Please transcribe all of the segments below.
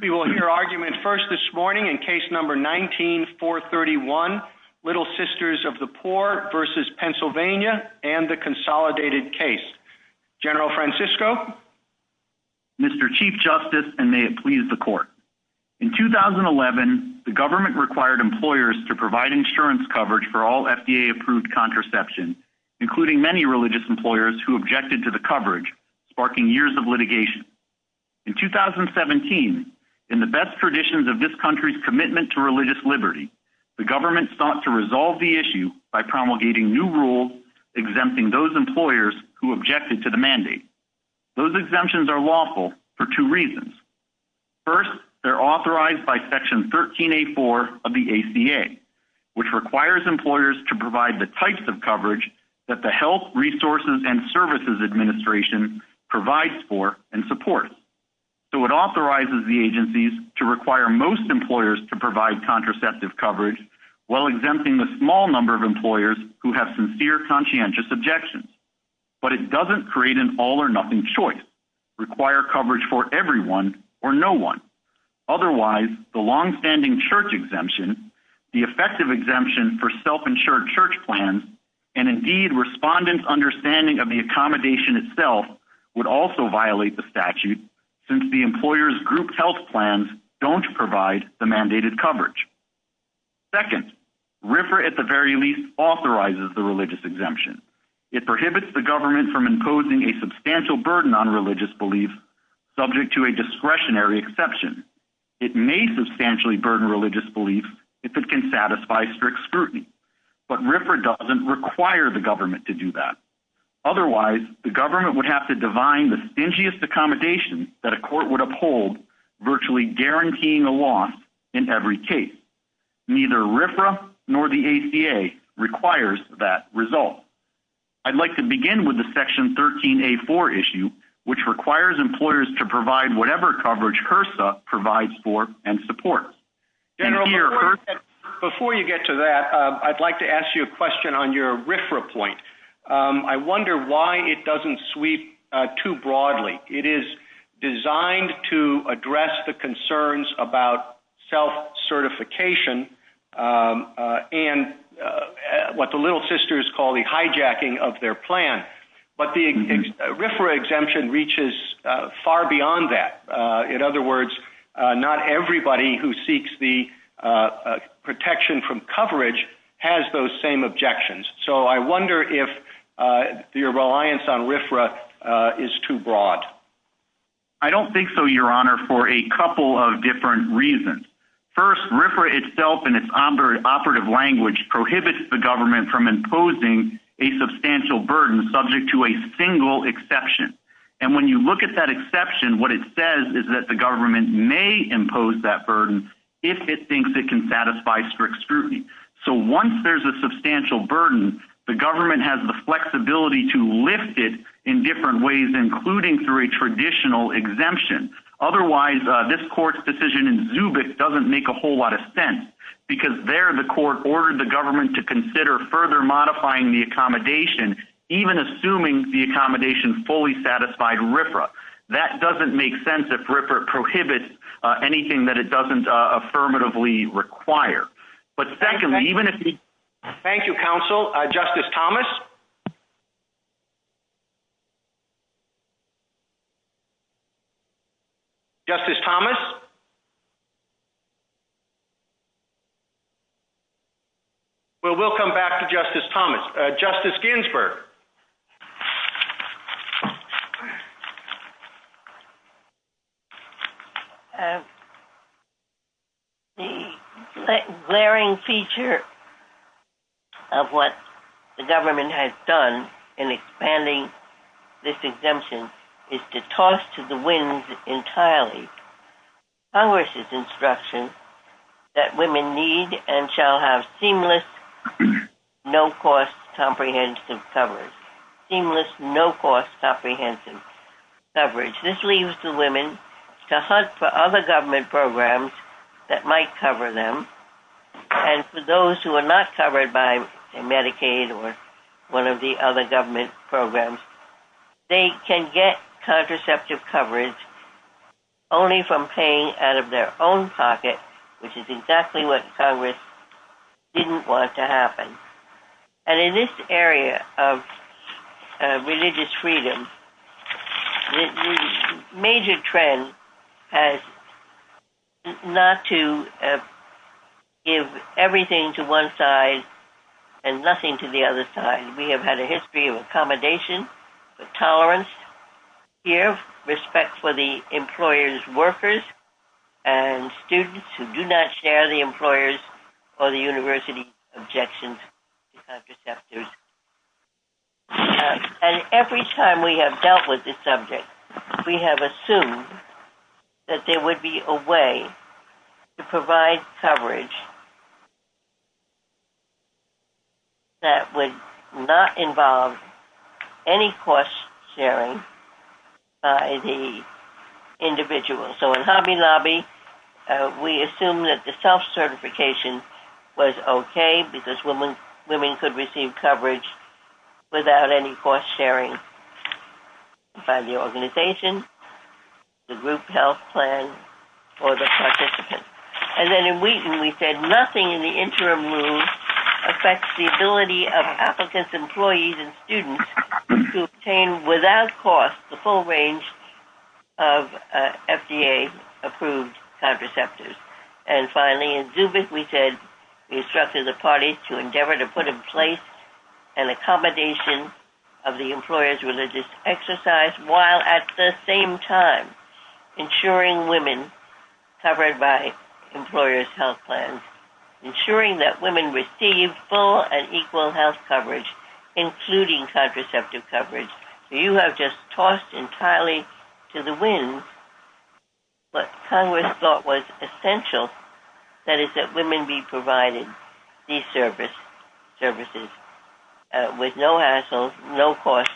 We will hear argument first this morning in case number 19-431 Little Sisters of the Poor versus Pennsylvania and the consolidated case. General Francisco. Mr. Chief Justice and may it please the court. In 2011 the government required employers to provide insurance coverage for all FDA-approved contraception, including many religious employers who objected to the coverage, sparking years of litigation. In 2017, in the best traditions of this country's commitment to religious liberty, the government sought to resolve the issue by promulgating new rules exempting those employers who objected to the mandate. Those exemptions are lawful for two reasons. First, they're authorized by section 13-A-4 of the ACA, which requires employers to provide for and support. So it authorizes the agencies to require most employers to provide contraceptive coverage while exempting the small number of employers who have sincere conscientious objections. But it doesn't create an all or nothing choice, require coverage for everyone or no one. Otherwise, the long-standing church exemption, the effective exemption for self-insured church plans and indeed respondents' understanding of the accommodation itself would also violate the statute since the employer's group health plans don't provide the mandated coverage. Second, RFRA at the very least authorizes the religious exemption. It prohibits the government from imposing a substantial burden on religious beliefs subject to a discretionary exception. It may substantially burden religious beliefs if it can satisfy strict scrutiny, but RFRA doesn't require the government to do that. Otherwise, the government would have to divine the stingiest accommodation that a court would uphold, virtually guaranteeing a loss in every case. Neither RFRA nor the ACA requires that result. I'd like to begin with the section 13-A-4 issue, which requires employers to provide whatever coverage HRSA provides for and supports. Before you get to that, I'd like to ask you a question on your RFRA point. I wonder why it doesn't sweep too broadly. It is designed to address the concerns about self-certification and what the Little Sisters call the hijacking of their plan, but the RFRA exemption reaches far beyond that. In other words, not everybody who seeks the protection from coverage has those same objections. So I wonder if your reliance on RFRA is too broad. I don't think so, Your Honor, for a couple of different reasons. First, RFRA itself and its operative language prohibits the government from imposing a substantial burden subject to a single exception. And when you look at that exception, what it says is that the government may impose that burden if it thinks it can satisfy strict scrutiny. So once there's a substantial burden, the government has the flexibility to lift it in different ways, including through a traditional exemption. Otherwise, this court's decision in making a whole lot of sense, because there the court ordered the government to consider further modifying the accommodation, even assuming the accommodation fully satisfied RFRA. That doesn't make sense if RFRA prohibits anything that it doesn't affirmatively require. Thank you, counsel. Justice Thomas? Justice Thomas? Well, we'll come back to Justice Thomas. Justice Ginsburg? The glaring feature of what the government has done in expanding this exemption is to thrust to the wind entirely Congress' instruction that women need and shall have seamless, no-cost, comprehensive coverage. Seamless, no-cost, comprehensive coverage. This leads to women to hunt for other government programs that might cover them. And for those who are not covered, they have to pay out of their own pocket, which is exactly what Congress didn't want to happen. And in this area of religious freedom, the major trend has not to give everything to one side and nothing to the other side. We have had a history of respect for the employer's workers and students who do not share the employer's or the university's objections to contraceptives. And every time we have dealt with this subject, we have assumed that there would be a way to provide coverage that would not involve any cost sharing by the individual. So in Hobby Lobby, we assumed that the self-certification was okay because women could receive coverage without any cost sharing by the organization, the group health plan, or the participant. And then in Wheaton, we said nothing in the interim rules affects the ability of applicants, employees, and students to obtain without cost the full range of FDA-approved contraceptives. And finally, in Zubik, we said we instructed the party to endeavor to put in place an accommodation of the employer's religious exercise while at the same time ensuring women covered by employer's health plans, ensuring that women receive full and equal health coverage, including contraceptive coverage. You have just tossed entirely to the wind what Congress thought was essential, that is that women be provided these services with no hassle, no cost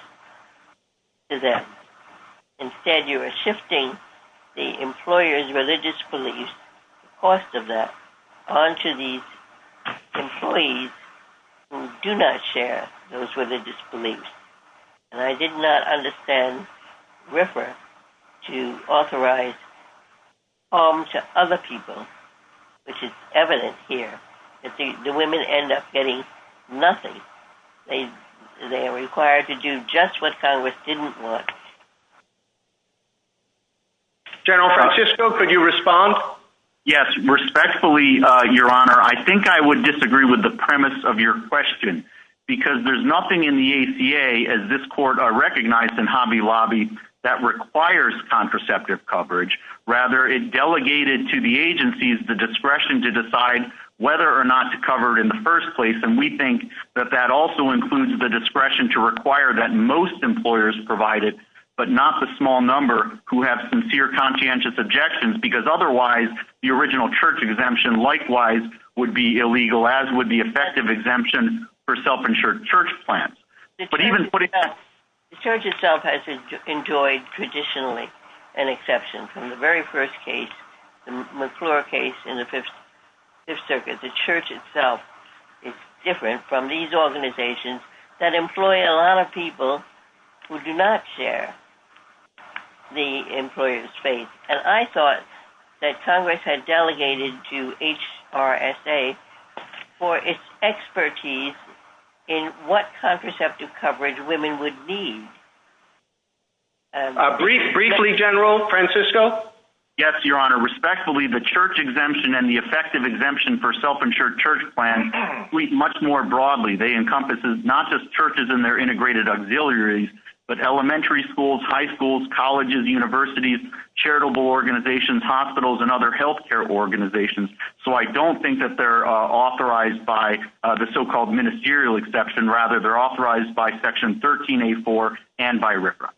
to them. Instead, you are shifting the employer's religious beliefs, cost of that, onto these employees who do not share those religious beliefs. And I did not understand RIFRA to authorize harm to other people, which is evident here, that the women end up getting nothing. They are required to do just what Congress didn't want. General Francisco, could you respond? Yes. Respectfully, Your Honor, I think I would disagree with the premise of your question because there's nothing in the ACA, as this court recognized in Hobby Lobby, that requires contraceptive coverage. Rather, it delegated to the agencies the discretion to decide whether or not to cover it in the first place, and we think that that also includes the discretion to require that most employers provide it, but not the small number who have sincere, conscientious objections, because otherwise, the original church exemption likewise would be illegal, as would the effective exemption for self-insured church plans. The church itself has enjoyed, traditionally, an exception from the very first case, the McClure case in the Fifth Circuit. The church itself is different from these organizations that employ a lot of people who do not share the employer's faith. And I thought that Congress had delegated to HRSA for its expertise in what contraceptive coverage women would need. Briefly, General Francisco? Yes, Your Honor. Respectfully, the church exemption and the effective exemption for self-insured church plans speak much more broadly. They encompass not just churches and their integrated auxiliaries, but elementary schools, high schools, colleges, universities, charitable organizations, hospitals, and other healthcare organizations. So, I don't think that they're authorized by the so-called ministerial exception. Rather, they're authorized by Section 13A4 and by RFRA.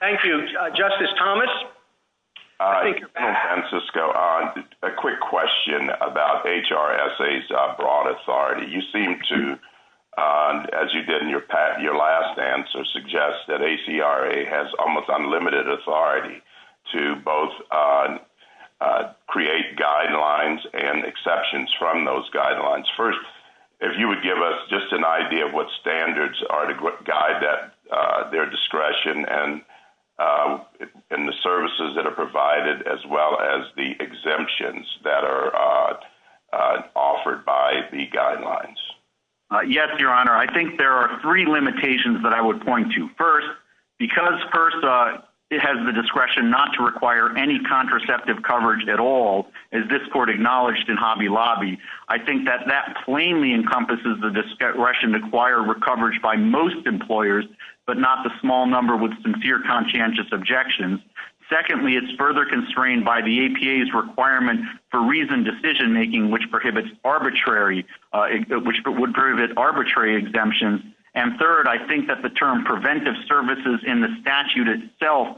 Thank you. Justice Thomas? Thank you, General Francisco. A quick question about HRSA's broad authority. You seem to, as you did in your last answer, suggest that ACRA has almost unlimited authority to both create guidelines and exceptions from those guidelines. First, if you would give us just an idea of what standards are to guide their discretion and the services that are provided, as well as the exemptions that are offered by the guidelines. Yes, Your Honor. I think there are three limitations that I would point to. First, because HRSA has the discretion not to require any contraceptive coverage at all, as this court acknowledged in Hobby Lobby. I think that that plainly encompasses the discretion to acquire recoverage by most employers, but not the small number with sincere conscientious objections. Secondly, it's further constrained by the APA's requirement for reasoned decision making, which prohibits arbitrary exemptions. And third, I think that the term preventive services in the statute itself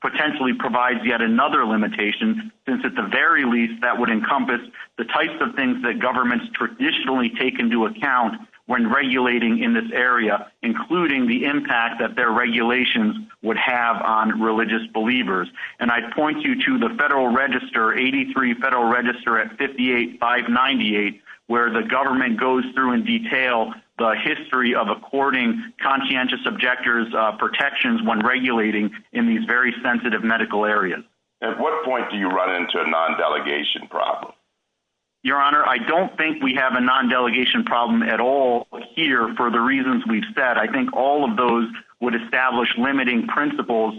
potentially provides yet another limitation, since at the very least, that would encompass the types of things that governments traditionally take into account when regulating in this area, including the impact that their regulations would have on religious believers. And I point you to the Federal Register, 83 Federal Register at 58-598, where the government goes through and details the history of according conscientious objectors protections when regulating in these very sensitive medical areas. At what point do you run into a non-delegation problem? Your Honor, I don't think we have a non-delegation problem at all here for the reasons we've said. I think all of those would establish limiting principles,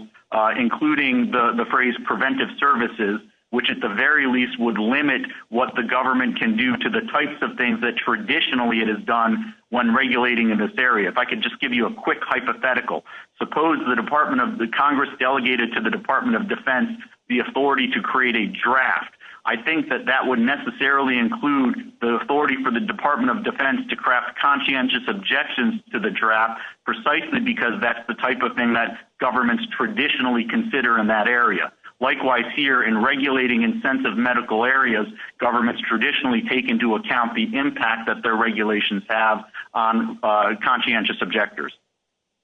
including the phrase preventive services, which at the very least would limit what the government can do to the types of things that traditionally it has done when regulating in this area. If I could just give you a quick hypothetical. Suppose the Congress delegated to the Department of Defense the authority to create a draft. I think that that would necessarily include the authority for the Department of Defense to craft conscientious objections to the draft, precisely because that's the type of thing that governments traditionally consider in that area. Likewise here, in regulating in sensitive medical areas, governments traditionally take into account the impact that their regulations have on conscientious objectors.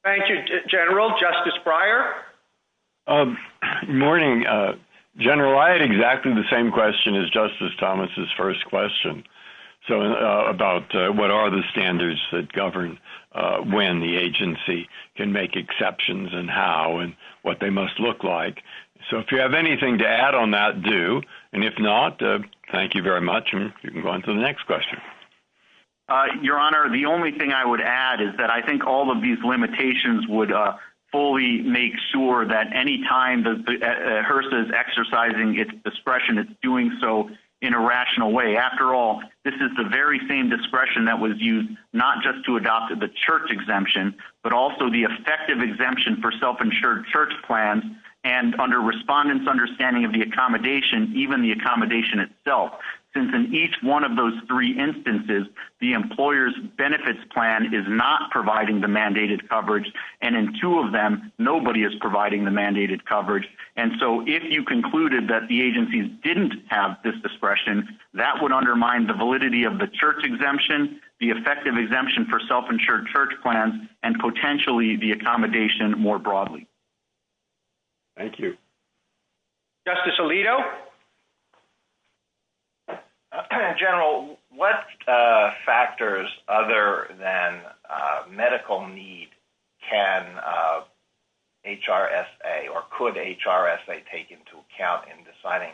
Thank you, General. Justice Breyer? Morning. General, I had exactly the same question as Justice Thomas's first question about what are the standards that govern when the agency can make exceptions and how and what they must look like. If you have anything to add on that, do. If not, thank you very much. You can I would add is that I think all of these limitations would fully make sure that any time HRSA is exercising its discretion, it's doing so in a rational way. After all, this is the very same discretion that was used not just to adopt the church exemption, but also the effective exemption for self-insured church plans and under respondents' understanding of the accommodation, even the accommodation itself. In each one of those three instances, the employer's benefits plan is not providing the mandated coverage. And in two of them, nobody is providing the mandated coverage. And so if you concluded that the agency didn't have this discretion, that would undermine the validity of the church exemption, the effective exemption for self-insured church plans, and potentially the accommodation more other than medical need, can HRSA or could HRSA take into account in deciding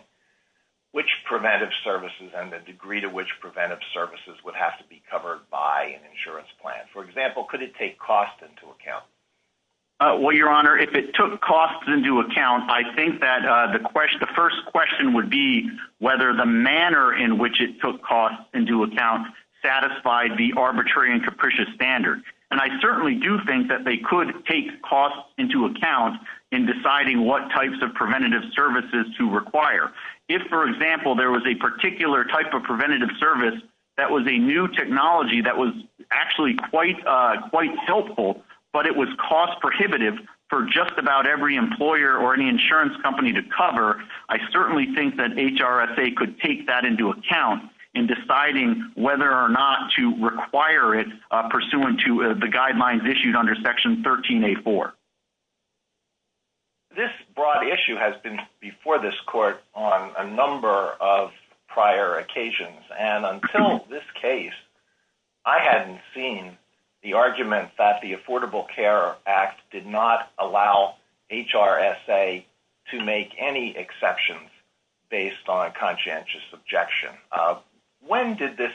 which preventive services and the degree to which preventive services would have to be covered by an insurance plan? For example, could it take costs into account? Well, your honor, if it took costs into account, I think that the first question would be whether the manner in which it took costs into account satisfied the arbitrary and capricious standard. And I certainly do think that they could take costs into account in deciding what types of preventative services to require. If, for example, there was a particular type of preventative service that was a new technology that was actually quite helpful, but it was cost prohibitive for just about every employer or any insurance company to cover, I certainly think that HRSA could take that into account in deciding whether or not to require it pursuant to the guidelines issued under Section 13A4. This broad issue has been before this court on a number of prior occasions, and until this case, I hadn't seen the argument that the Affordable Care Act did not allow HRSA to make any exceptions based on conscientious objection. When did this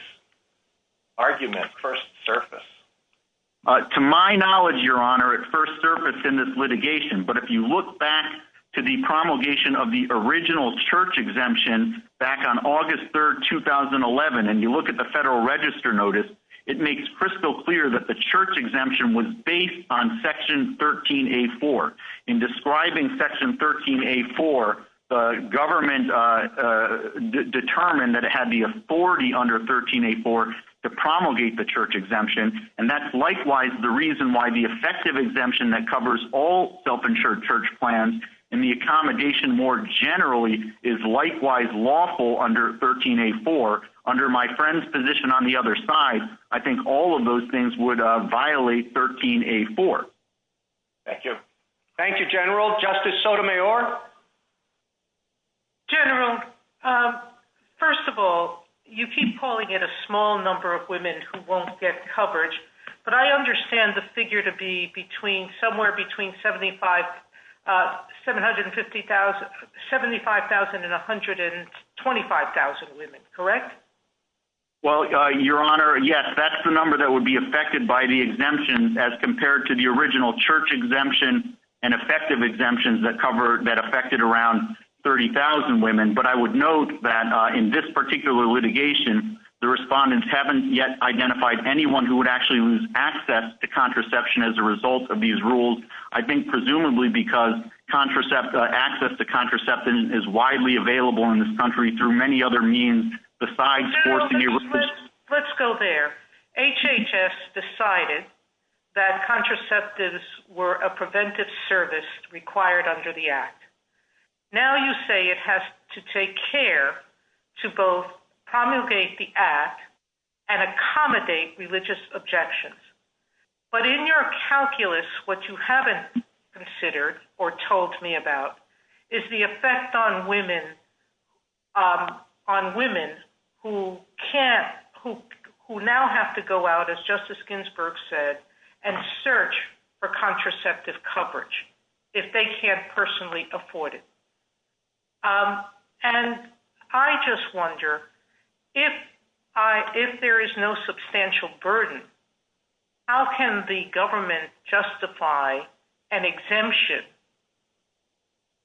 argument first surface? To my knowledge, your honor, it first surfaced in this litigation, but if you look back to the promulgation of the original church exemption back on August 3, 2011, and you look at the Federal Register Notice, it makes crystal clear that the church exemption was based on Section 13A4. In describing Section 13A4, the government determined that it had the authority under 13A4 to promulgate the church exemption, and that's likewise the reason why the effective exemption that covers all self-insured church plans and the accommodation more generally is likewise lawful under 13A4. Under my friend's position on the other side, I think all of those things would violate 13A4. Thank you. Thank you, General. Justice Sotomayor? General, first of all, you keep calling it a small number of women who won't get coverage, but I understand the figure to be somewhere between 75,000 and 125,000 women, correct? Well, your honor, yes, that's the number that would be affected by the exemption as compared to the original church exemption and effective exemptions that affected around 30,000 women, but I would note that in this particular litigation, the respondents haven't yet identified anyone who would actually lose access to contraception as a result of these rules. I think presumably because access to contraception is widely available in this country through many other means besides... Let's go there. HHS decided that contraceptives were a preventive service required under the Act. Now you say it has to take care to both promulgate the Act and accommodate religious objections, but in your calculus, what you haven't considered or told me about is the effect on women who now have to go out, as Justice Ginsburg said, and search for contraceptive coverage if they can't personally afford it. I just wonder, if there is no substantial burden, how can the government justify an exemption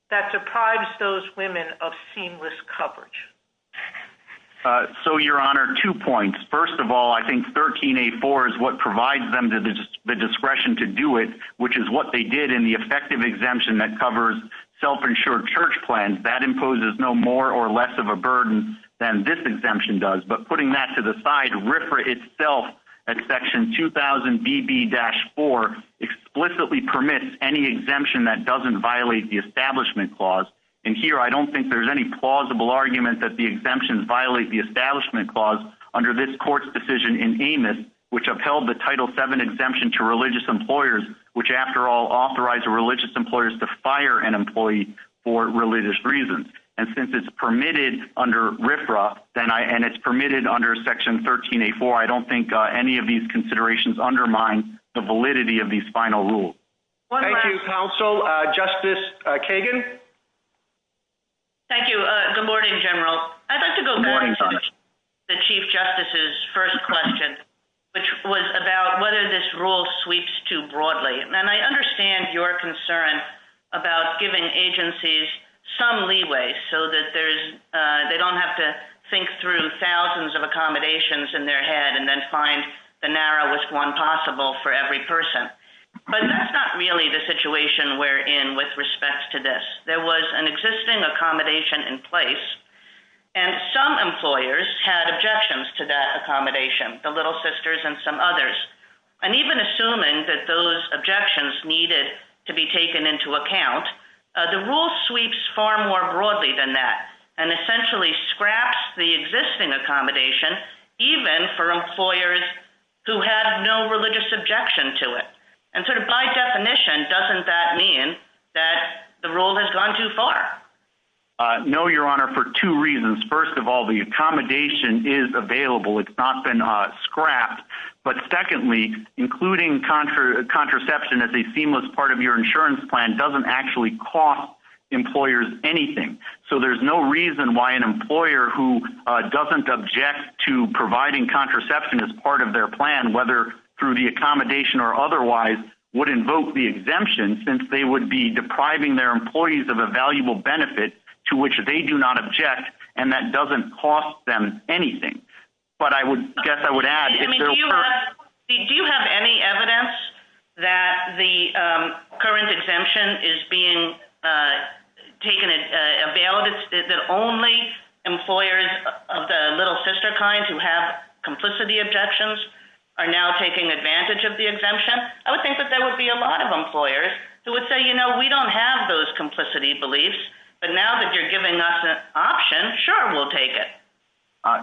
that deprives those women of seamless coverage? So, your honor, two points. First of all, I think 13A4 is what provides them the discretion to do it, which is what they did in the effective exemption that covers self-insured church plans. That imposes no more or less of a burden than this exemption does, but putting that to the side, RFRA itself at section 2000BB-4 explicitly permits any exemption that doesn't violate the Establishment Clause. And here, I don't think there's any plausible argument that the exemptions violate the Establishment Clause under this court's decision in Amos, which upheld the Title VII exemption to religious employers, which after all authorized religious employers to fire an employee for religious reasons. And since it's permitted under RFRA, and it's permitted under section 13A4, I don't think any of these considerations undermine the validity of these exemptions. Next, Kagan. Thank you. Good morning, General. I'd like to go back to the Chief Justice's first question, which was about whether this rule sweeps too broadly. And I understand your concern about giving agencies some leeway so that they don't have to think through thousands of accommodations in their head and then find the narrowest one possible for every person. But that's not really the situation we're in with respect to this. There was an existing accommodation in place, and some employers had objections to that accommodation, the Little Sisters and some others. And even assuming that those objections needed to be taken into account, the rule sweeps far more broadly than that, and essentially scraps the existing accommodation, even for employers who have no religious objection to it. And so by definition, doesn't that mean that the rule has gone too far? No, Your Honor, for two reasons. First of all, the accommodation is available. It's not been scrapped. But secondly, including contraception as a seamless part of your insurance plan doesn't actually cost employers anything. So there's no reason why an employer who doesn't object to providing contraception as part of their plan, whether through the accommodation or otherwise, would invoke the exemption since they would be depriving their employees of a valuable benefit to which they do not object, and that doesn't cost them anything. But I would guess I would add... Do you have any evidence that the current only employers of the Little Sister kind who have complicity objections are now taking advantage of the exemption? I would think that there would be a lot of employers who would say, you know, we don't have those complicity beliefs, but now that you're giving us an option, sure, we'll take it.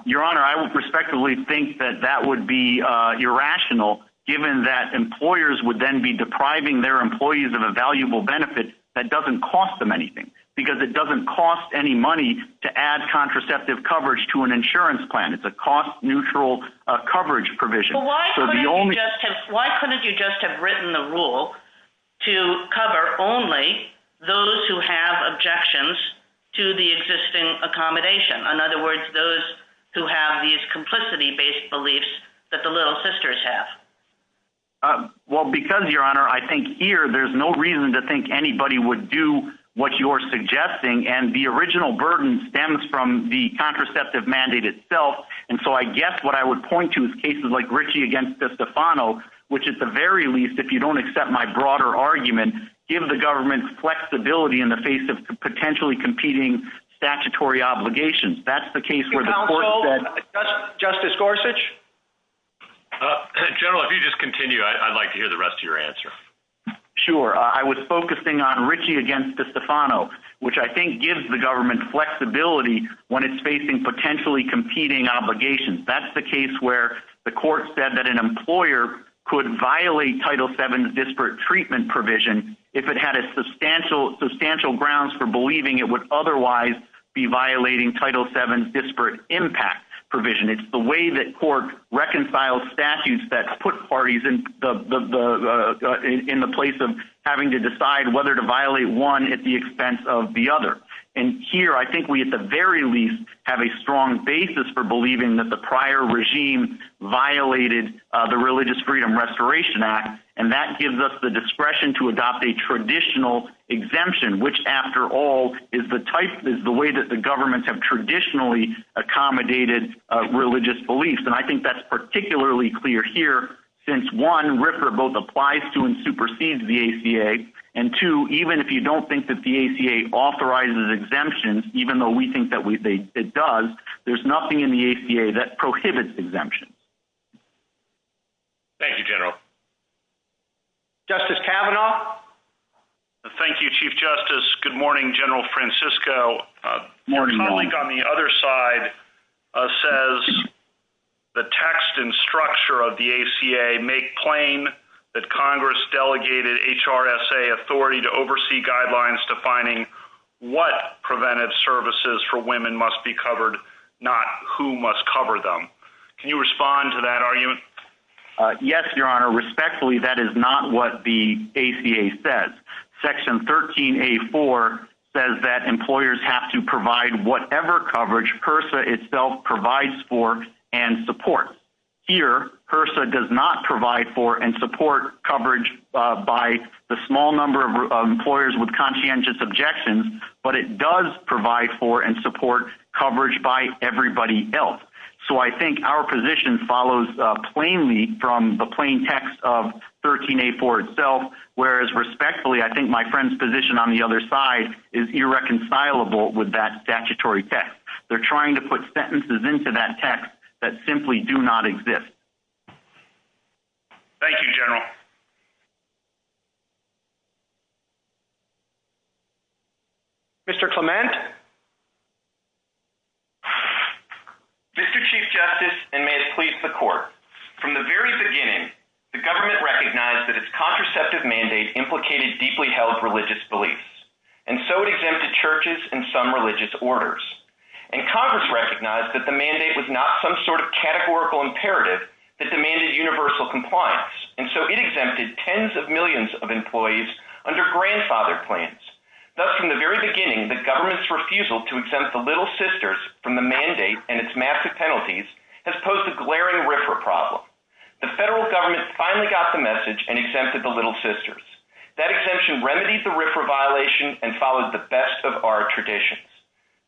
Your Honor, I would respectfully think that that would be irrational, given that employers would then be depriving their employees of a valuable benefit that doesn't cost them anything, because it doesn't cost any money to add contraceptive coverage to an insurance plan. It's a cost-neutral coverage provision. Why couldn't you just have written the rule to cover only those who have objections to the existing accommodation? In other words, those who have these complicity-based beliefs that the Little Sisters have? Well, because, Your Honor, I think here there's no reason to think anybody would do what you're suggesting, and the original burden stems from the contraceptive mandate itself. And so I guess what I would point to is cases like Ritchie against Stefano, which at the very least, if you don't accept my broader argument, give the government flexibility in the face of potentially competing statutory obligations. That's the case where the court said... Your Counsel, Justice Gorsuch? General, if you just continue, I'd like to hear the rest of your answer. Sure. I was focusing on Ritchie against Stefano, which I think gives the government flexibility when it's facing potentially competing obligations. That's the case where the court said that an employer could violate Title VII's disparate treatment provision if it had a substantial grounds for believing it would otherwise be violating Title VII's reconciled statutes that put parties in the place of having to decide whether to violate one at the expense of the other. And here, I think we, at the very least, have a strong basis for believing that the prior regime violated the Religious Freedom Restoration Act, and that gives us the discretion to adopt a traditional exemption, which, after all, is the way that the governments have accommodated religious beliefs. And I think that's particularly clear here, since, one, RIFRA both applies to and supersedes the ACA, and two, even if you don't think that the ACA authorizes exemptions, even though we think that it does, there's nothing in the ACA that prohibits exemptions. Thank you, General. Justice Kavanaugh? Thank you, Chief Justice. Good morning, General Francisco. Your colleague on the other side says the text and structure of the ACA make plain that Congress delegated HRSA authority to oversee guidelines defining what preventive services for women must be covered, not who must cover them. Can you respond to that argument? Yes, Your Honor. Respectfully, that is not what the ACA says. Section 13A.4 says that employers have to provide whatever coverage HRSA itself provides for and supports. Here, HRSA does not provide for and support coverage by the small number of employers with conscientious objections, but it does provide for and support coverage by everybody else. So I think our position follows plainly from the plain text of 13A.4 itself, whereas respectfully, I think my friend's position on the other side is irreconcilable with that statutory text. They're trying to put sentences into that text that simply do not exist. Thank you, General. Mr. Clement? Mr. Chief Justice, and may it please the Court, from the very beginning, the government recognized that its contraceptive mandate implicated deeply held religious beliefs, and so it exempted churches and some religious orders. And Congress recognized that the mandate was not some sort of categorical imperative that demanded universal compliance, and so it exempted tens of millions of employees under grandfathered claims. Thus, from the very beginning, the government's role was to exempt the Little Sisters from the mandate and its massive penalties as opposed to glaring RFRA problems. The federal government finally got the message and exempted the Little Sisters. That exemption remedied the RFRA violation and followed the best of our traditions.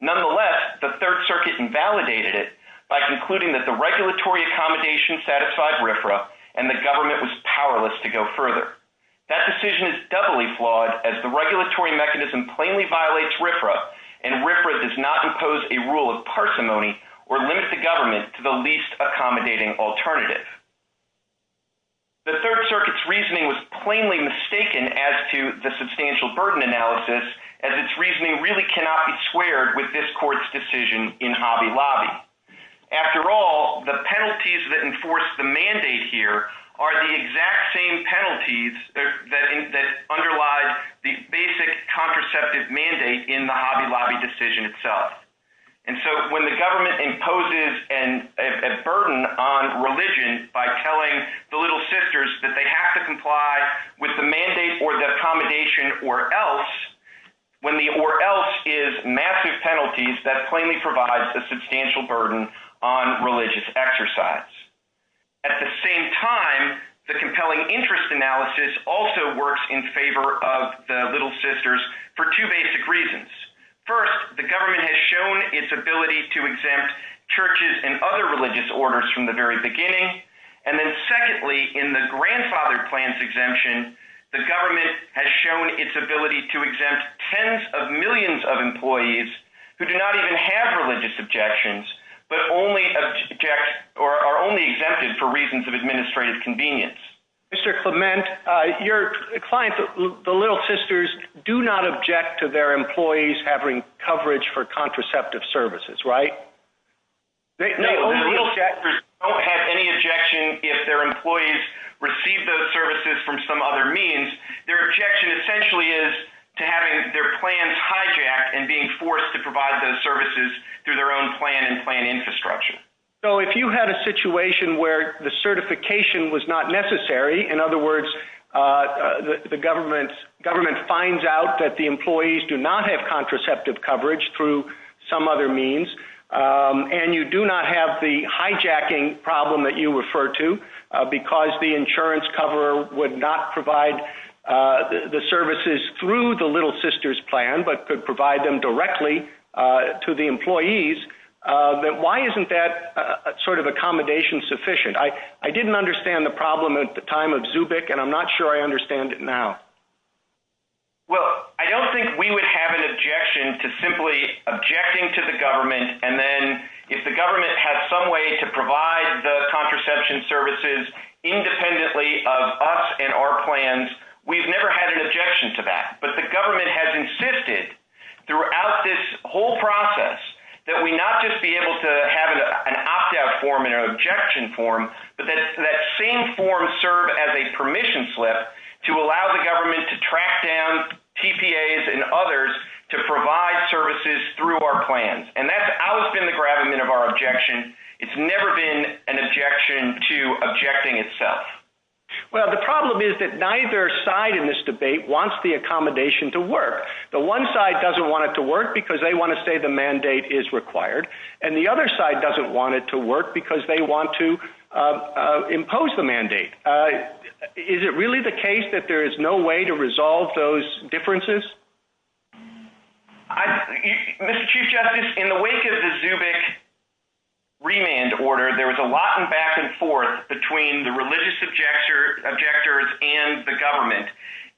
Nonetheless, the Third Circuit invalidated it by concluding that the regulatory accommodation satisfied RFRA and the government was powerless to go further. That decision is doubly flawed as the regulatory mechanism plainly violates RFRA, and RFRA does not impose a rule of parsimony or link the government to the least accommodating alternative. The Third Circuit's reasoning was plainly mistaken as to the substantial burden analysis, as its reasoning really cannot be squared with this Court's decision in Hobby Lobby. After all, the penalties that enforce the mandate here are the exact same penalties that underlie the basic contraceptive mandate in the Hobby Lobby decision itself, and so when the government imposes a burden on religion by telling the Little Sisters that they have to comply with the mandate or the accommodation or else, when the or else is massive penalties, that plainly provides a substantial burden on religious exercise. At the same time, the compelling interest analysis also works in favor of the Little Sisters for two basic reasons. First, the government has shown its ability to exempt churches and other religious orders from the very beginning, and then secondly, in the grandfather plan's exemption, the government has shown its ability to exempt tens of millions of only objects or are only exempted for reasons of administrative convenience. Mr. Clement, your client, the Little Sisters, do not object to their employees having coverage for contraceptive services, right? They don't have any objection if their employees receive those services from some other means. Their objection essentially is to having their plans hijacked and being forced to provide those services through their own plan and plan infrastructure. So if you had a situation where the certification was not necessary, in other words, the government finds out that the employees do not have contraceptive coverage through some other means and you do not have the hijacking problem that you refer to because the insurance cover would not to the employees, then why isn't that sort of accommodation sufficient? I didn't understand the problem at the time of Zubik and I'm not sure I understand it now. Well, I don't think we would have an objection to simply objecting to the government and then if the government has some way to provide the contraception services independently of us and our plans, we've never had an objection to that. But the government has insisted throughout this whole process that we not just be able to have an opt-out form and an objection form, but that same form serve as a permission slip to allow the government to track down TPAs and others to provide services through our plans. And that's always been the gravamen of our objection. It's never been an objection to objecting itself. Well, the problem is that neither side in this debate wants the accommodation to work. The one side doesn't want it to work because they want to say the mandate is required and the other side doesn't want it to work because they want to impose the mandate. Is it really the case that there is no way to resolve those differences? Mr. Chief Justice, in the wake of the Zubik remand order, there was a lot of back and forth between the religious objectors and the government.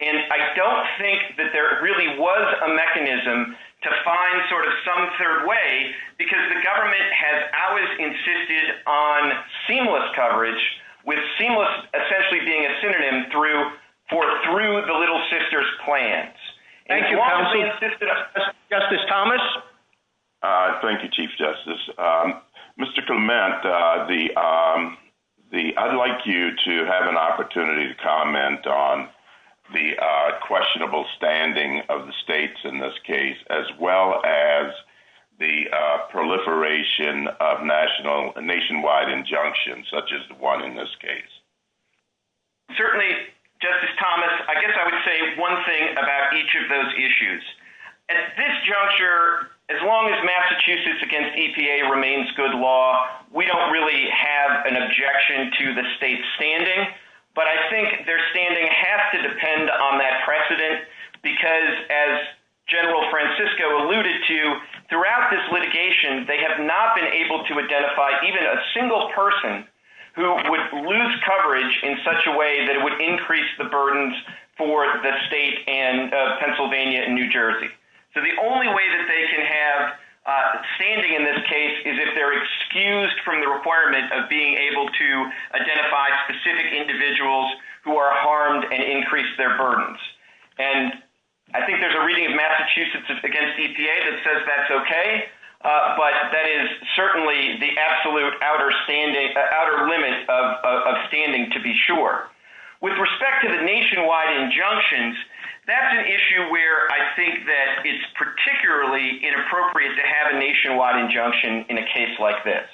And I don't think that there really was a mechanism to find sort of some third way because the government has always insisted on seamless coverage, with seamless essentially being a synonym for through the Little Sisters plans. Thank you, Justice Thomas. Thank you, Chief Justice. Mr. Clement, I'd like you to have an opportunity to comment on the questionable standing of the states in this case, as well as the proliferation of national and nationwide injunctions, such as the one in this case. Certainly, Justice Thomas, I guess I would say one thing about each of those issues. At this juncture, as long as Massachusetts against EPA remains good law, we don't really have an objection to the state's standing. But I think their standing has to depend on that precedent. Because as General Francisco alluded to, throughout this litigation, they have not been able to identify even a single person who would lose coverage in such a way that would increase the burdens for the state and Pennsylvania and New Jersey. So the only way that they can have standing in this case is if they're excused from the requirement of being able to identify specific individuals who are harmed and increase their burdens. And I think there's a the absolute outer limit of standing, to be sure. With respect to the nationwide injunctions, that's an issue where I think that it's particularly inappropriate to have a nationwide injunction in a case like this.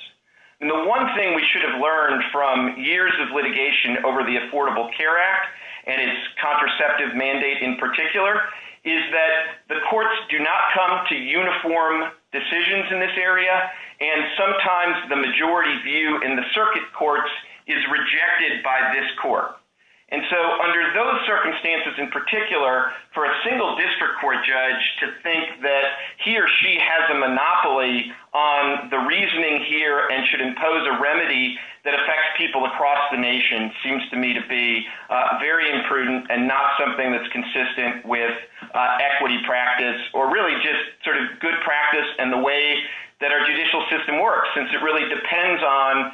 And the one thing we should have learned from years of litigation over the Affordable Care Act, and its contraceptive mandate in particular, is that the courts do not come to uniform decisions in this area. And sometimes the majority view in the circuit courts is rejected by this court. And so under those circumstances, in particular, for a single district court judge to think that he or she has a monopoly on the reasoning here and should impose a remedy that affects people across the nation seems to me to be very imprudent and not something that's consistent with equity practice, or really just sort of good practice and the way that our judicial system works, since it really depends on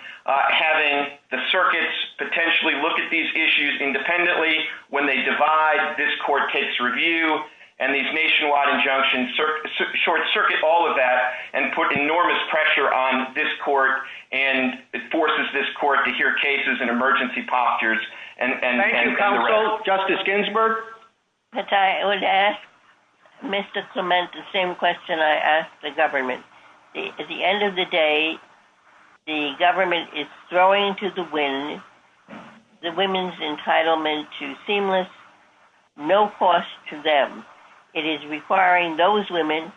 having the circuits potentially look at these issues independently, when they divide, this court takes review, and these nationwide injunctions short circuit all of that and put enormous pressure on this court, and it forces this court to hear cases and emergency postures. And Justice Ginsburg, that I would ask Mr. Clement, the same question I asked the government, at the end of the day, the government is throwing to the wind, the women's entitlement to seamless, no cost to them. It is requiring those women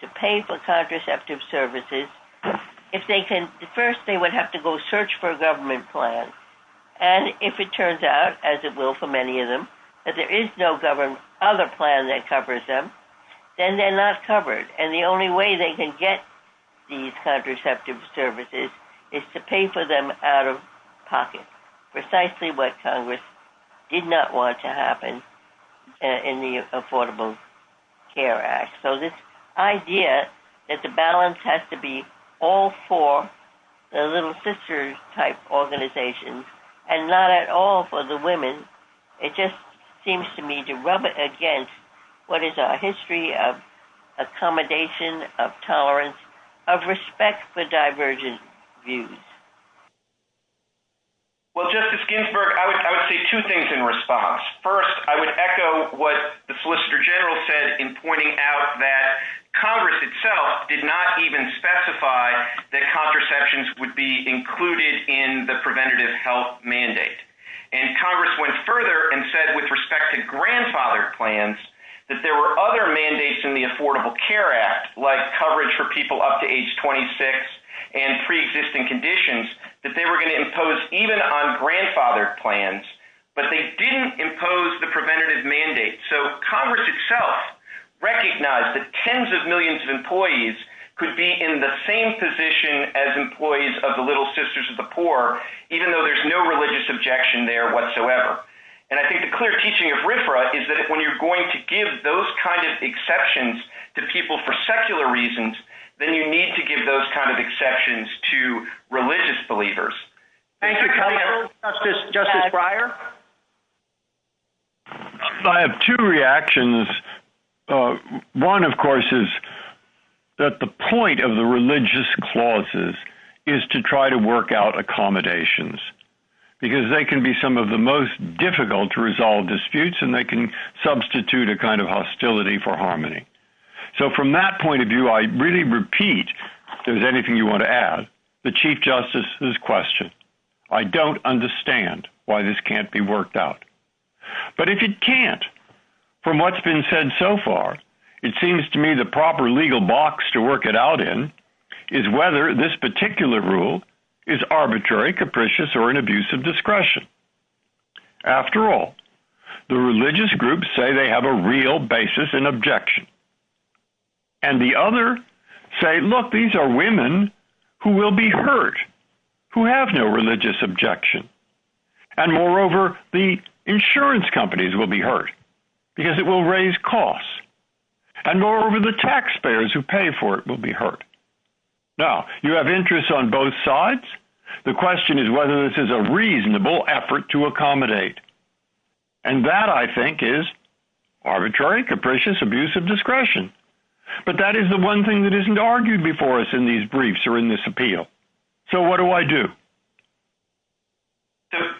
to pay for contraceptive services. If they can, first they would have to go search for a government plan. And if it turns out, as it will for many of them, that there is no other plan that covers them, then they're not covered. And the only way they can get these contraceptive services is to pay for them out of pocket, precisely what Congress did not want to happen in the Affordable Care Act. So this idea that the balance has to be all for the little sister type organizations, and not at all for the women, it just seems to me to rub it against what is our history of accommodation, of tolerance, of respect for divergent views. Well, Justice Ginsburg, I would say two things in response. First, I would echo what the Solicitor General said in pointing out that Congress did not even specify that contraceptions would be included in the preventative health mandate. And Congress went further and said with respect to grandfathered plans, that there were other mandates in the Affordable Care Act, like coverage for people up to age 26 and pre-existing conditions, that they were going to impose even on grandfathered plans, but they didn't impose the could be in the same position as employees of the Little Sisters of the Poor, even though there's no religious objection there whatsoever. And I think the clear teaching of RFRA is that when you're going to give those kinds of exceptions to people for secular reasons, then you need to give those kinds of exceptions to religious believers. Thank you, Justice Breyer. I have two reactions. One, of course, is that the point of the religious clauses is to try to work out accommodations because they can be some of the most difficult to resolve disputes and they can substitute a kind of hostility for harmony. So from that point of view, I really repeat, if there's anything you want to add, the Chief Justice's question, I don't understand why this can't be worked out. But if it can't, from what's been said so far, it seems to me the proper legal box to work it out in is whether this particular rule is arbitrary, capricious, or an abuse of discretion. After all, the religious groups say they have a real basis in objection. And the other say, look, these are women who will be hurt, who have no religious objection. And moreover, the insurance companies will be hurt because it will raise costs. And moreover, the taxpayers who pay for it will be hurt. Now, you have interests on both sides. The question is whether this is a reasonable effort to accommodate. And that, I think, is arbitrary, capricious, abuse of discretion. But that is the one thing that isn't argued before us in these briefs or in this appeal. So what do I do?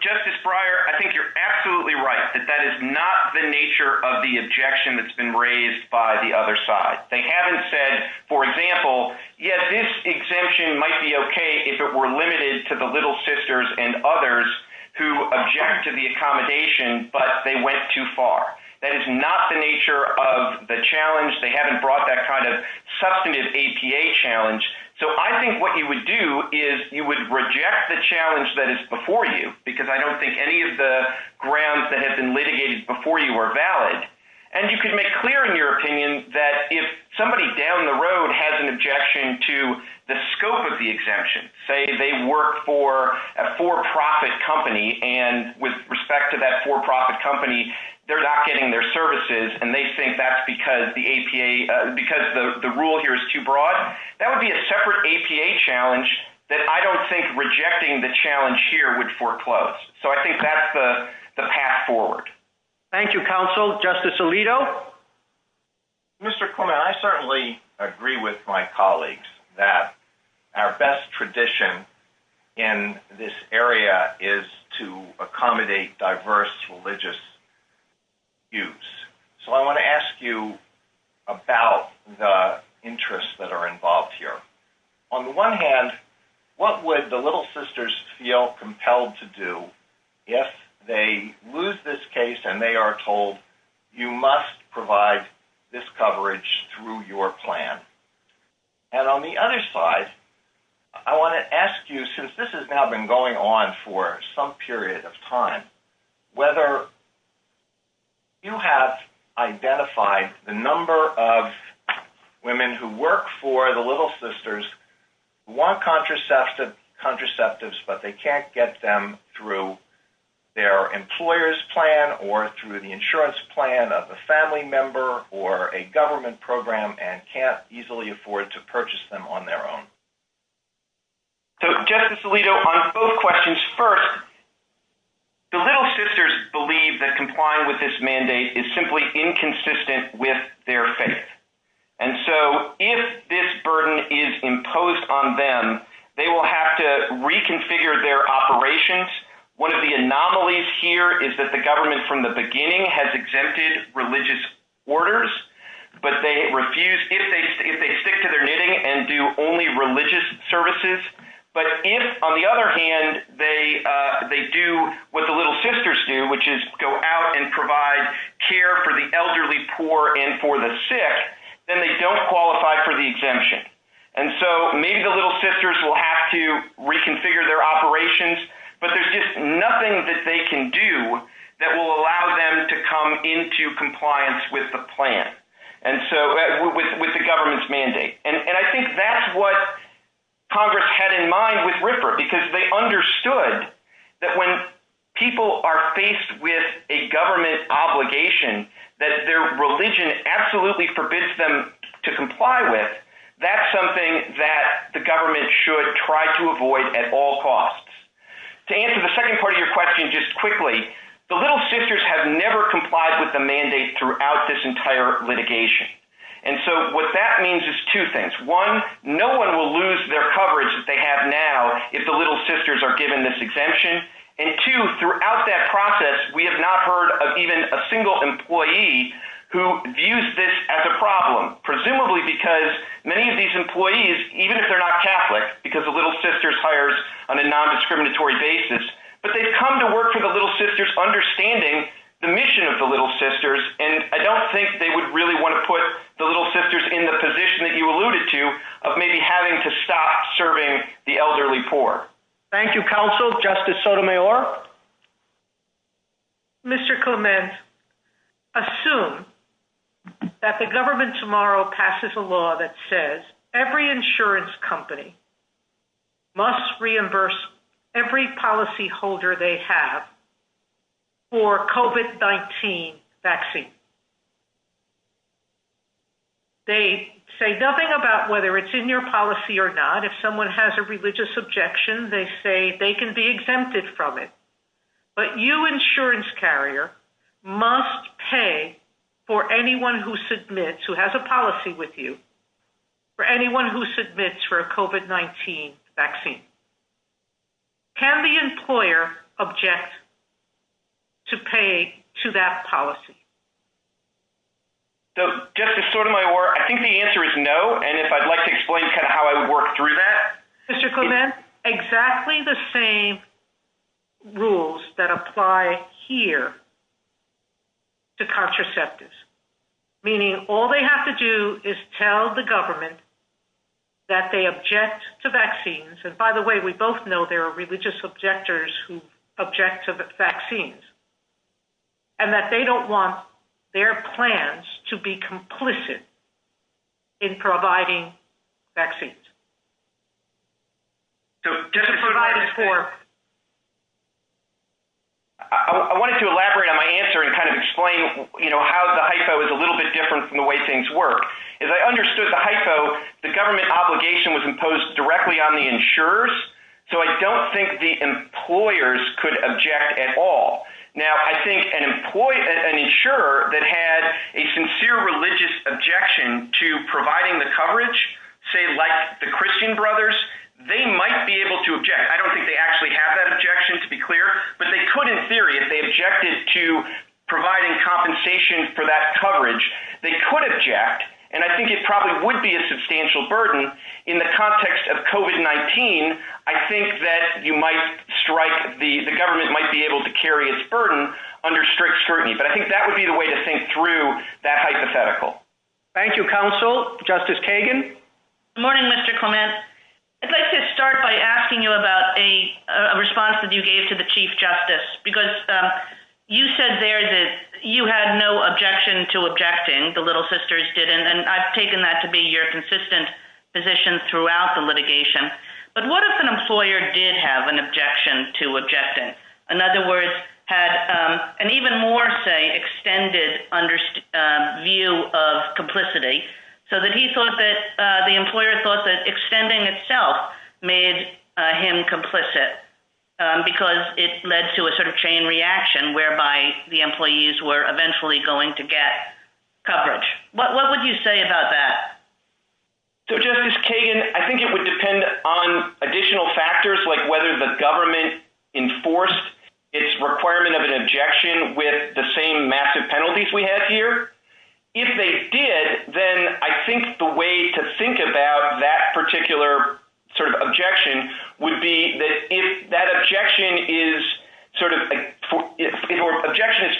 Justice Breyer, I think you're absolutely right that that is not the nature of the objection that's been raised by the other side. They haven't said, for example, yes, this exemption might be okay if it were limited to the little sisters and others who object to the accommodation, but they went too far. That is not the nature of the challenge. They haven't brought that kind of substantive APA challenge. So I think what you would do is you would reject the challenge that is before you, because I don't think any of the grounds that have been litigated before you are valid. And you can make clear in your opinion that if somebody down the road has an objection to the scope of the exemption, say they work for a for-profit company, and with respect to that for-profit company, they're not getting their APA because the rule here is too broad. That would be a separate APA challenge that I don't think rejecting the challenge here would foreclose. So I think that's the path forward. Thank you, counsel. Justice Alito? Mr. Corman, I certainly agree with my colleagues that our best tradition in this area is to accommodate diverse religious views. So I want to ask you about the interests that are involved here. On the one hand, what would the little sisters feel compelled to do if they lose this case and they are told, you must provide this coverage through your plan? And on the other side, I want to ask you, since this has now been going on for some period of time, whether you have identified the number of women who work for the little sisters who want contraceptives but they can't get them through their employer's plan or through the insurance plan of a family member or a government program and can't easily afford to purchase them on their own? So, Justice Alito, on both questions, first, the little sisters believe that complying with this mandate is simply inconsistent with their faith. And so if this burden is imposed on them, they will have to reconfigure their operations. One of the anomalies here is that the government from the beginning has exempted religious orders, but they refuse, if they stick to their knitting and do only religious services. But if, on the other hand, they do what the little sisters do, which is go out and provide care for the elderly, poor, and for the sick, then they don't qualify for the exemption. And so maybe the little sisters will have to reconfigure their operations, but there's just nothing that they can do that will allow them to come into compliance with the government's mandate. And I think that's what Congress had in mind with Ripper, because they understood that when people are faced with a government obligation that their religion absolutely forbids them to comply with, that's something that the government should try to avoid at all costs. To answer the second part of your question just quickly, the little sisters have means is two things. One, no one will lose their coverage that they have now if the little sisters are given this exemption. And two, throughout that process, we have not heard of even a single employee who views this as a problem, presumably because many of these employees, even if they're not Catholic, because the little sisters hires on a non-discriminatory basis, but they've come to work for the little sisters understanding the mission of the little sisters, and I don't think they would really want to put the little sisters in the position that you alluded to of maybe having to stop serving the elderly poor. Thank you, counsel. Justice Sotomayor. Mr. Komen, assume that the government tomorrow passes a law that says every insurance company must reimburse every policyholder they have for COVID-19 vaccines. They say nothing about whether it's in their policy or not. If someone has a religious objection, they say they can be exempted from it. But you, insurance carrier, must pay for anyone who submits, who has a policy with you, for anyone who submits for a COVID-19 vaccine. Can the employer object to pay to that policy? So, Justice Sotomayor, I think the answer is no, and if I'd like to explain kind of how I worked through that. Mr. Komen, exactly the same rules that apply here to contraceptives, meaning all they have to do is tell the government that they object to vaccines, and by the way, we both know there are religious objectors who object to vaccines, and that they don't want their plans to be complicit in providing vaccines. So, Justice Sotomayor, I wanted to elaborate on my answer and kind of explain, you know, how the HICO is a little bit different from the way things work. As I understood the HICO, the government obligation was imposed directly on the insurers, so I don't think the employers could object at all. Now, I think an insurer that had a sincere religious objection to providing the coverage, say like the Christian brothers, they might be able to object. I don't think they actually have that objection, to be clear, but they could, in theory, if they objected to providing compensation for that coverage, they could object, and I think it probably would be a substantial burden in the context of COVID-19. I think that you might strike, the government might be able to carry its burden under strict scrutiny, but I think that would be the way to think through that hypothetical. Thank you, Counsel. Justice Kagan? Good morning, Mr. Komen. I'd like to start by asking you about a response that you gave to Chief Justice, because you said there that you had no objection to objecting, the Little Sisters didn't, and I've taken that to be your consistent position throughout the litigation, but what if an employer did have an objection to objecting? In other words, had an even more, say, extended view of complicity, so that he thought that, the employer thought that extending itself made him complicit, because it led to a chain reaction, whereby the employees were eventually going to get coverage. What would you say about that? Justice Kagan, I think it would depend on additional factors, like whether the government enforced its requirement of an objection with the same massive penalties we have here. If they did, then I think the way to think about that particular objection would be that if that objection is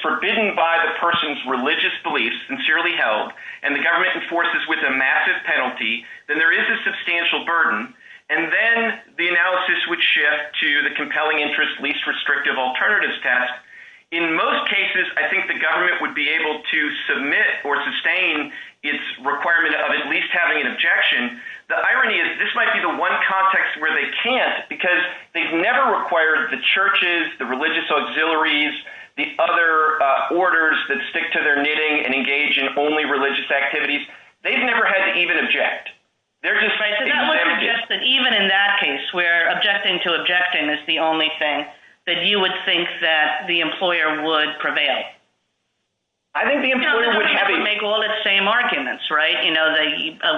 forbidden by the person's religious beliefs, sincerely held, and the government enforces with a massive penalty, then there is a substantial burden, and then the analysis would shift to the compelling interest, least restrictive alternatives test. In most cases, I think the government would submit or sustain its requirement of at least having an objection. The irony is, this might be the one context where they can't, because they've never required the churches, the religious auxiliaries, the other orders that stick to their knitting and engage in only religious activities. They've never had to even object. They're just saying, Even in that case, where objecting to objecting is the only thing that you would think that the government would do. You have to make all the same arguments, right?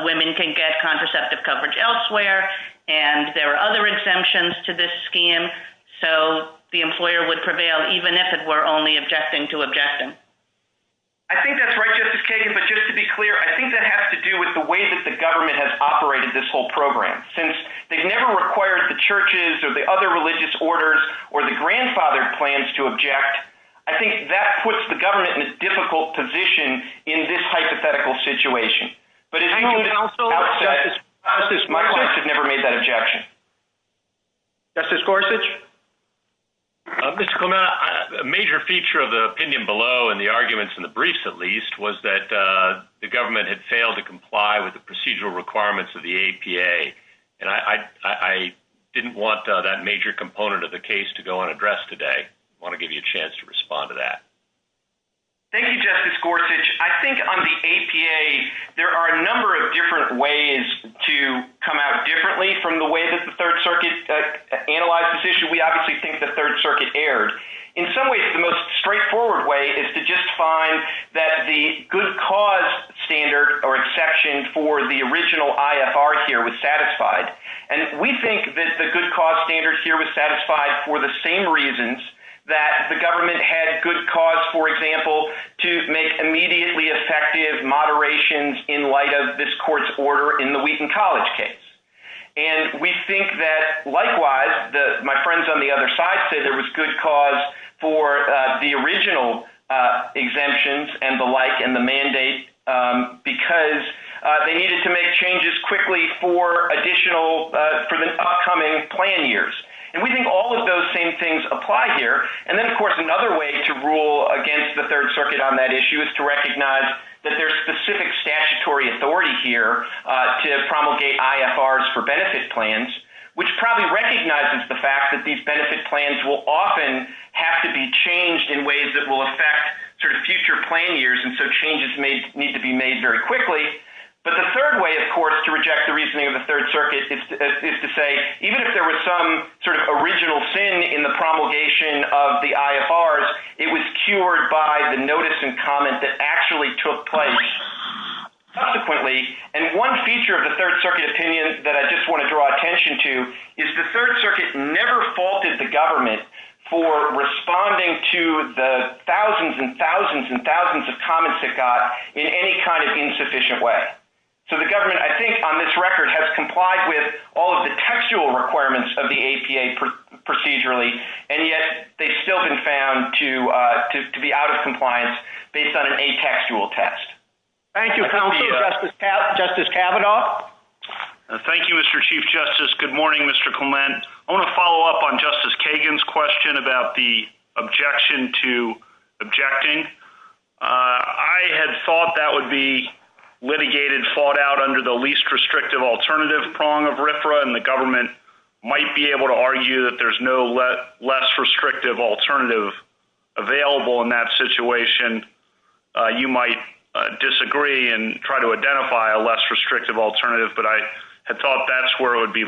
Women can get contraceptive coverage elsewhere, and there are other exemptions to this scheme, so the employer would prevail, even if it were only objecting to objecting. I think that's right, Justice Kagan, but just to be clear, I think that has to do with the way that the government has operated this whole program. Since they've never required the churches or the other religious orders or the grandfathered plans to object, I think that puts the government in a difficult position in this hypothetical situation. My colleagues have never made that objection. Justice Gorsuch? Mr. Clement, a major feature of the opinion below and the arguments in the briefs, at least, was that the government had failed to comply with the procedural requirements of the APA, and I didn't want that major component of the case to go unaddressed today. I want to give you a chance to respond to that. Thank you, Justice Gorsuch. I think on the APA, there are a number of different ways to come out differently from the way that the Third Circuit analyzed this issue. We obviously think the Third Circuit erred. In some ways, the most straightforward way is to just find that the good cause standard or exception for the original IFR here was satisfied, and we think that the good cause standard here was satisfied for the same reasons that the government had good cause, for example, to make immediately effective moderations in light of this court's order in the Wheaton College case. We think that, likewise, my friends on the other side say there was good cause for the original exemptions and the like and the mandate because they needed to make changes quickly for the upcoming plan years. And we think all of those same things apply here. And then, of course, another way to rule against the Third Circuit on that issue is to recognize that there's specific statutory authority here to promulgate IFRs for benefit plans, which probably recognizes the fact that these benefit plans will often have to be changed in ways that will affect future plan years, and so changes need to be made very quickly. But the third way, of course, to reject the reasoning of the Third Circuit is to say even if there was some sort of original sin in the promulgation of the IFRs, it was cured by the notice and comment that actually took place subsequently. And one feature of the Third Circuit opinion that I just want to draw attention to is the Third Circuit never faulted the government for responding to the thousands and thousands and thousands of comments it got in any kind of insufficient way. So the government, I think, on this record has complied with all of the textual requirements of the APA procedurally, and yet they've still been found to be out of compliance based on a textual test. Thank you. Justice Kavanaugh? Thank you, Mr. Chief Justice. Good morning, Mr. Clement. I want to follow up on Justice Kagan's question about the objection to objecting. I had thought that would be litigated, fought out under the least restrictive alternative prong of RFRA, and the government might be able to argue that there's no less restrictive alternative available in that situation. You might disagree and try to identify a less restrictive alternative, but I had thought that's where it would be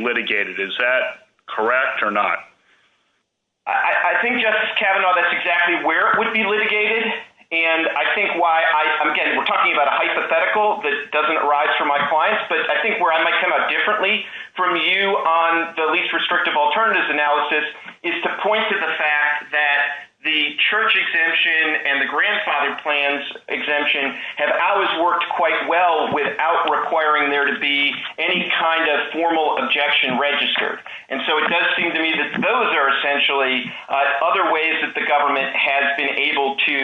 I think, Justice Kavanaugh, that's exactly where it would be litigated, and I think why I'm, again, we're talking about a hypothetical that doesn't arise from my clients, but I think where I might come up differently from you on the least restrictive alternatives analysis is to point to the fact that the church exemption and the grandfather plans exemption have always worked quite well without requiring there to be any kind of formal objection registered. And so it does seem to me that those are essentially other ways that the government has been able to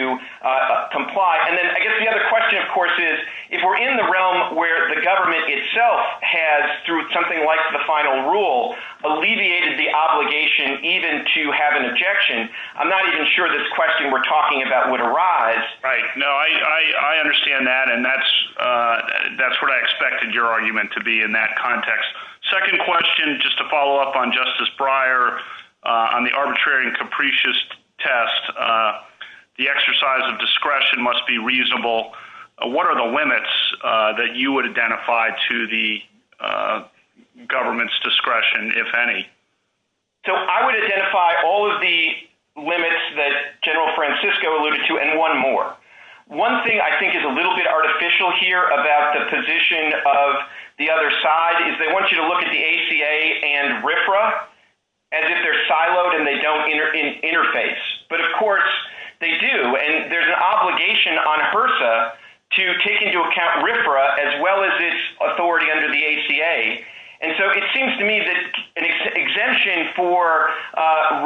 comply. And then I guess the other question, of course, is if we're in the realm where the government itself has, through something like the final rule, alleviated the obligation even to have an objection, I'm not even sure this question we're talking about would arise. Right, no, I understand that, and that's what I expected your argument to be in that context. Second question, just to on the arbitrary and capricious test, the exercise of discretion must be reasonable. What are the limits that you would identify to the government's discretion, if any? So I would identify all of the limits that General Francisco alluded to, and one more. One thing I think is a little bit artificial here about the position of the other side, is they want you to look at the ACA and RFRA as if they're siloed and they don't interface. But of course they do, and there's an obligation on HRSA to take into account RFRA as well as this authority under the ACA. And so it seems to me that an exemption for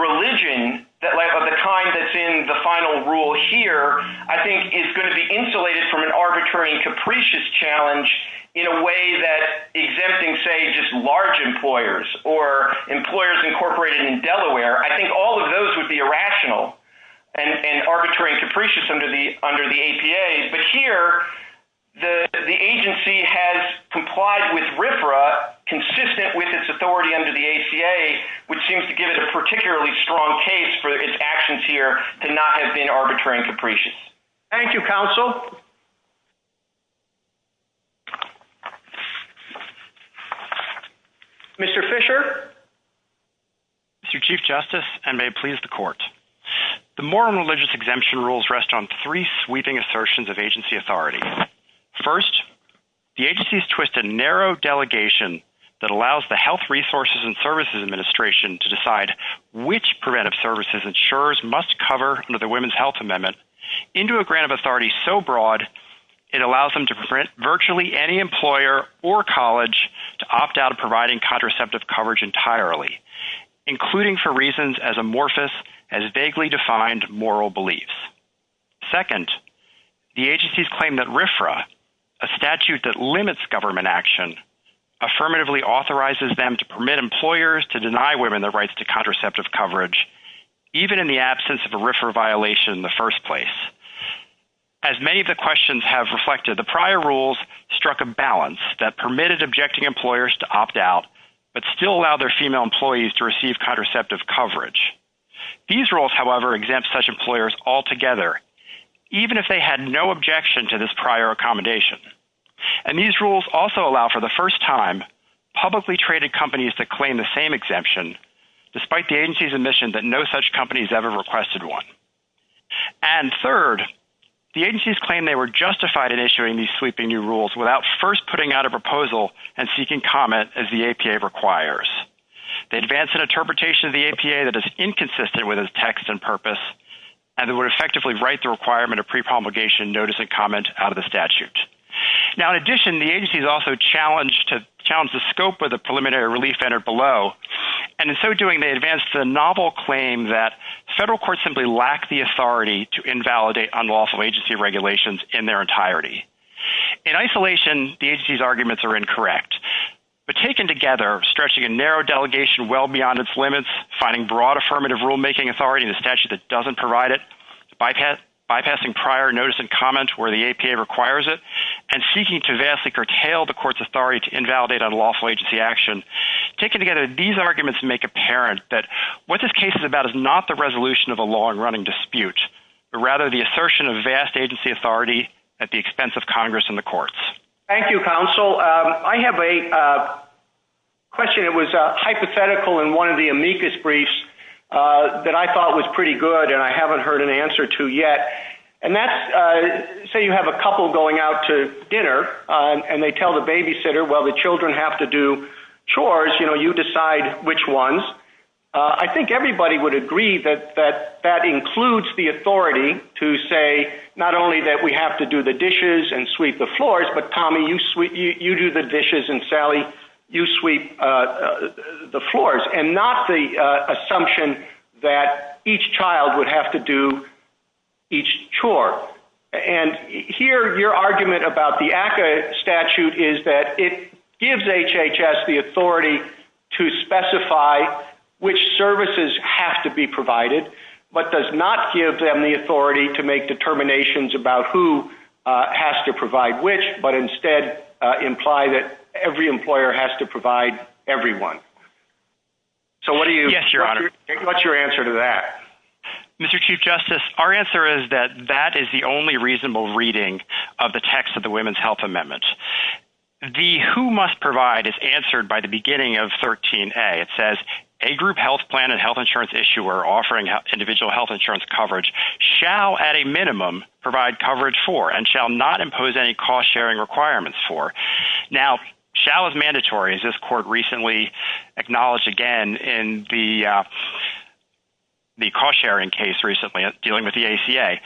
religion of the kind that's in the final rule here, I think is going to be insulated from an arbitrary and capricious challenge in a way that exempting, say, just large employers or employers incorporated in Delaware, I think all of those would be irrational and arbitrary and capricious under the ACA. But here, the agency has complied with RFRA consistent with its authority under the ACA, which seems to give it a particularly strong case for its actions here to not have been arbitrary and capricious. Thank you, counsel. Mr. Fisher? Mr. Chief Justice, and may it please the court. The moral and religious exemption rules rest on three sweeping assertions of agency authority. First, the agency's twisted narrow delegation that allows the Health Resources and Services Administration to decide which preventive services insurers must cover under the Women's Health Amendment into a grant of authority so broad it allows them to prevent virtually any employer or college to opt out of providing contraceptive coverage entirely, including for reasons as amorphous as vaguely defined moral beliefs. Second, the agency's claim that RFRA, a statute that limits government action, affirmatively authorizes them to permit employers to deny women their rights to contraceptive coverage even in the absence of a RFRA violation in the first place. As many of the questions have reflected, the prior rules struck a balance that permitted objecting employers to opt out but still allow their female employees to receive contraceptive coverage. These rules, however, exempt such employers altogether, even if they had no objection to this prior accommodation. And these rules also allow for the first time publicly traded companies to claim the same exemption despite the agency's admission that no such ever requested one. And third, the agency's claim they were justified in issuing these sweeping new rules without first putting out a proposal and seeking comment as the APA requires. They advance an interpretation of the APA that is inconsistent with its text and purpose and that would effectively write the requirement of pre-promulgation notice and comment out of the statute. Now, in addition, the agency is also challenged to challenge the scope of the federal court simply lack the authority to invalidate unlawful agency regulations in their entirety. In isolation, the agency's arguments are incorrect. But taken together, stretching a narrow delegation well beyond its limits, finding broad affirmative rulemaking authority in a statute that doesn't provide it, bypassing prior notice and comment where the APA requires it, and seeking to vastly curtail the court's authority to invalidate unlawful agency action. Taken together, these arguments make apparent that what this case is about is not the resolution of a long-running dispute, but rather the assertion of vast agency authority at the expense of Congress and the courts. Thank you, counsel. I have a question that was hypothetical in one of the amicus briefs that I thought was pretty good and I haven't heard an answer to yet. And that's, say you have a couple going out to dinner and they tell the babysitter, well, the children have to do chores, you know, you decide which ones. I think everybody would agree that that includes the authority to say not only that we have to do the dishes and sweep the floors, but Tommy, you do the dishes and Sally, you sweep the floors. And not the assumption that each child would have to do each chore. And here your argument about the APA statute is that it gives HHS the authority to specify which services have to be provided, but does not give them the authority to make determinations about who has to provide which, but instead imply that every Mr. Chief Justice, our answer is that that is the only reasonable reading of the text of the Women's Health Amendment. The who must provide is answered by the beginning of 13A. It says, a group health plan and health insurance issuer offering individual health insurance coverage shall at a minimum provide coverage for and shall not impose any cost-sharing requirements for. Now, shall is mandatory, as this court recently acknowledged again in the cost-sharing case recently dealing with the ACA.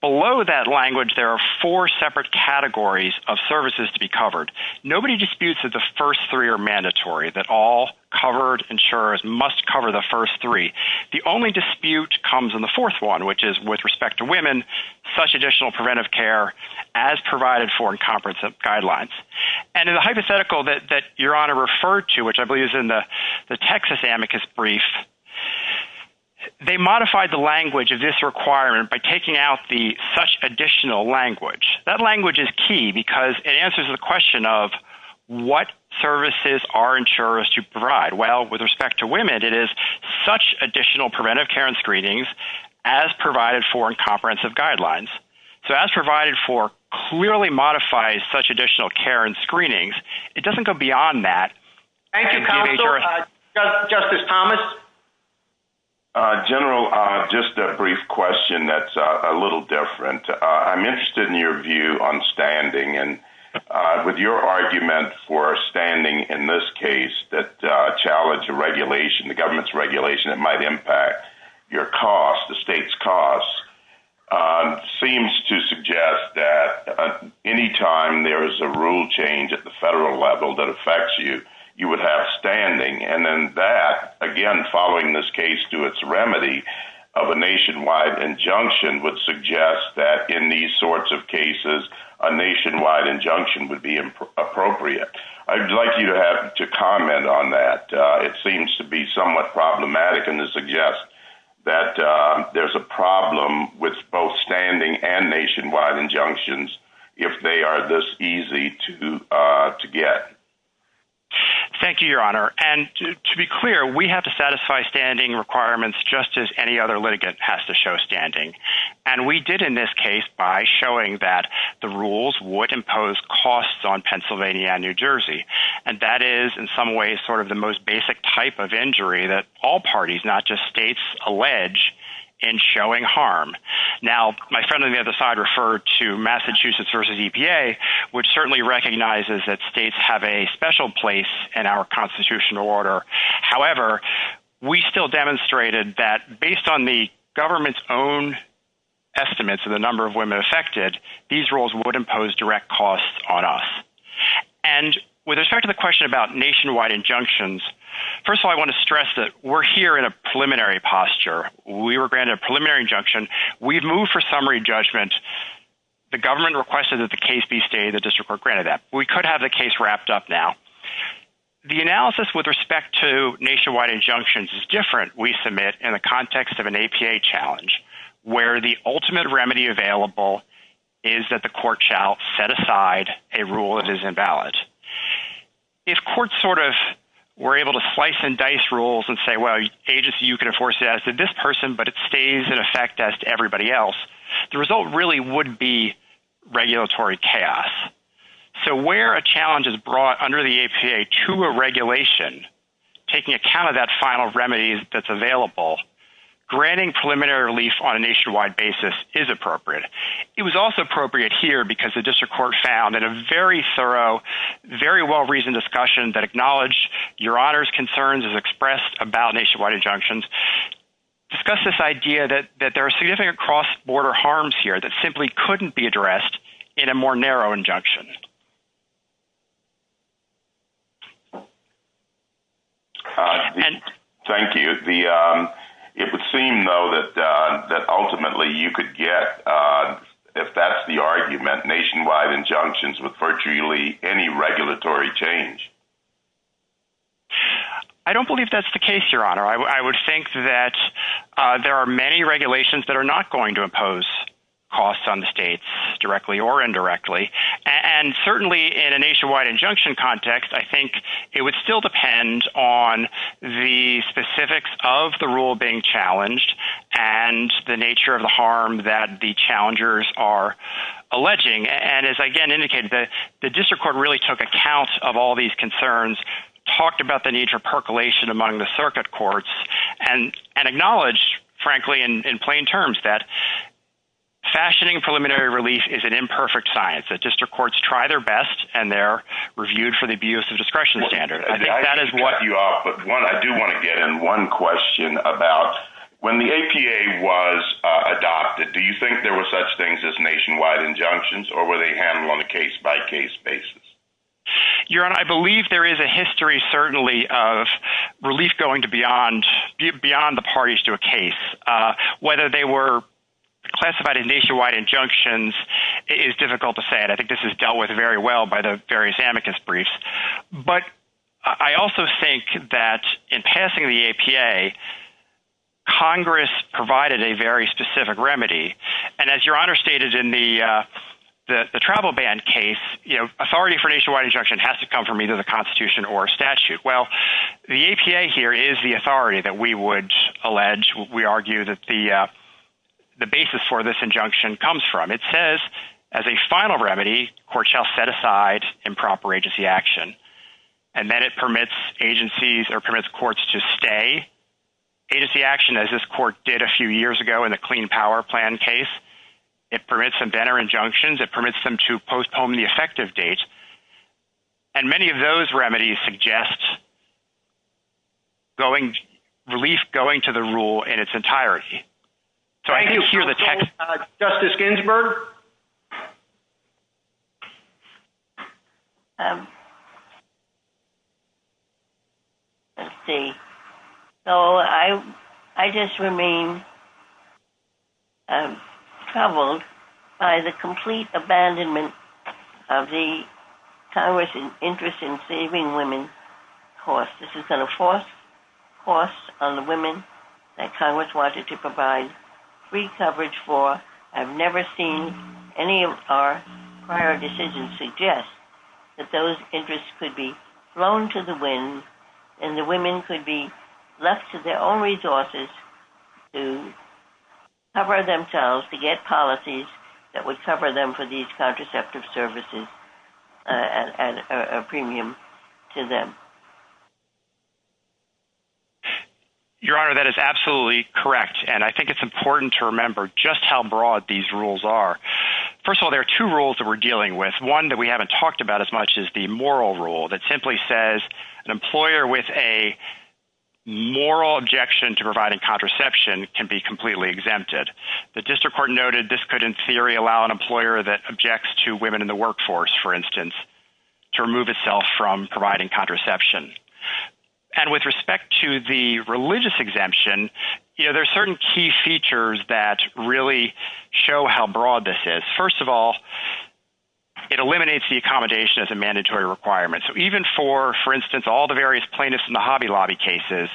Below that language there are four separate categories of services to be covered. Nobody disputes that the first three are mandatory, that all covered insurers must cover the first three. The only dispute comes in the fourth one, which is with respect to women, such additional preventive care as provided for in comprehensive guidelines. And in the hypothetical that Your Honor referred to, which I believe is in the Texas amicus brief, they modified the language of this requirement by taking out the such additional language. That language is key because it answers the question of what services are insurers to provide. Well, with respect to women, it is such additional preventive care and screenings as provided for comprehensive guidelines. So, as provided for clearly modifies such additional care and screenings. It doesn't go beyond that. Thank you, counsel. Justice Thomas? General, just a brief question that's a little different. I'm interested in your view on standing and with your argument for standing in this case that challenged the regulation, the government's regulation that might impact your costs, the state's costs, seems to suggest that any time there is a rule change at the federal level that affects you, you would have standing. And then that, again, following this case to its remedy of a nationwide injunction would suggest that in these sorts of cases, a nationwide injunction would be appropriate. I'd like you to comment on that. It seems to be somewhat problematic and to suggest that there's a problem with both standing and nationwide injunctions if they are this easy to get. Thank you, Your Honor. And to be clear, we have to satisfy standing requirements just as any other litigant has to show standing. And we did in this case by showing that the rules would impose costs on Pennsylvania and New Jersey. And that is in some ways sort of the most basic type of injury that all parties, not just states, allege in showing harm. Now, my friend on the other side referred to Massachusetts versus EPA, which certainly recognizes that states have a special place in our constitutional order. However, we still demonstrated that based on the government's estimates of the number of women affected, these rules would impose direct costs on us. And with respect to the question about nationwide injunctions, first of all, I want to stress that we're here in a preliminary posture. We were granted a preliminary injunction. We've moved for summary judgment. The government requested that the case be stated, the district court granted that. We could have the case wrapped up now. The analysis with respect to nationwide injunctions is different, we submit, in the context of an APA challenge, where the ultimate remedy available is that the court shall set aside a rule that is invalid. If courts sort of were able to slice and dice rules and say, well, the agency, you can enforce it as to this person, but it stays in effect as to everybody else, the result really would be regulatory chaos. So where a challenge is brought under the APA to a regulation, taking account of that final remedy that's available, granting preliminary relief on a nationwide basis is appropriate. It was also appropriate here because the district court found in a very thorough, very well-reasoned discussion that acknowledged your honor's concerns as expressed about nationwide injunctions, discussed this idea that there are significant cross-border harms here that simply couldn't be addressed in a more narrow injunction. Thank you. It would seem though that ultimately you could get, if that's the argument, nationwide injunctions with virtually any regulatory change. I don't believe that's the case, your honor. I would think that there are many regulations that are not going to impose costs on the states directly or indirectly. And certainly in a nationwide injunction context, I think it would still depend on the specifics of the rule being challenged and the nature of the harm that the challengers are alleging. And as I again indicated, the district court really took account of all these concerns, talked about the need for percolation among the circuit courts and acknowledge frankly, in plain terms, that fashioning preliminary relief is an imperfect science that district courts try their best and they're reviewed for the abuse of discretion standard. I think that is what you are. But one, I do want to get in one question about when the APA was adopted, do you think there were such things as nationwide injunctions or were they handled on a case by case basis? Your honor, I believe there is a history certainly of relief going to beyond the parties to a case. Whether they were classified nationwide injunctions is difficult to say. And I think this is dealt with very well by the various amicus briefs. But I also think that in passing the APA, Congress provided a very specific remedy. And as your honor stated in the travel ban case, authority for nationwide injunction has to come from either the constitution or statute. Well, the APA here is the authority that we would allege, we argue that the basis for this injunction comes from. It says as a final remedy, court shall set aside improper agency action. And then it permits agencies or permits courts to stay agency action as this court did a few years ago in the clean power plan case. It permits them to enter injunctions, it permits them to postpone the effective date. And many of those remedies suggest relief going to the rule in its entirety. So I think you'll hear the text. Justice Ginsburg? Let's see. So I just remain troubled by the complete abandonment of the Congress' interest in saving women's costs. This is going to force costs on the women that Congress wanted to provide free coverage for. I've never seen any of our prior decisions suggest that those interests could be thrown to the wind, and the women could be left to their own resources to cover themselves to get policies that would cover them for these contraceptive services as a premium to them. Your Honor, that is absolutely correct. And I think it's important to remember just how broad these rules are. First of all, there are two rules that we're dealing with. One that we haven't talked about as much as the moral rule that simply says an employer with a moral objection to providing contraception can be completely exempted. The district court noted this could in theory allow an employer that objects to women in the workforce, for instance, to remove itself from providing contraception. And with respect to the religious exemption, there are certain key features that really show how broad this is. First of all, it eliminates the accommodation as a mandatory requirement. So even for, for instance, all the various plaintiffs in the Hobby Lobby cases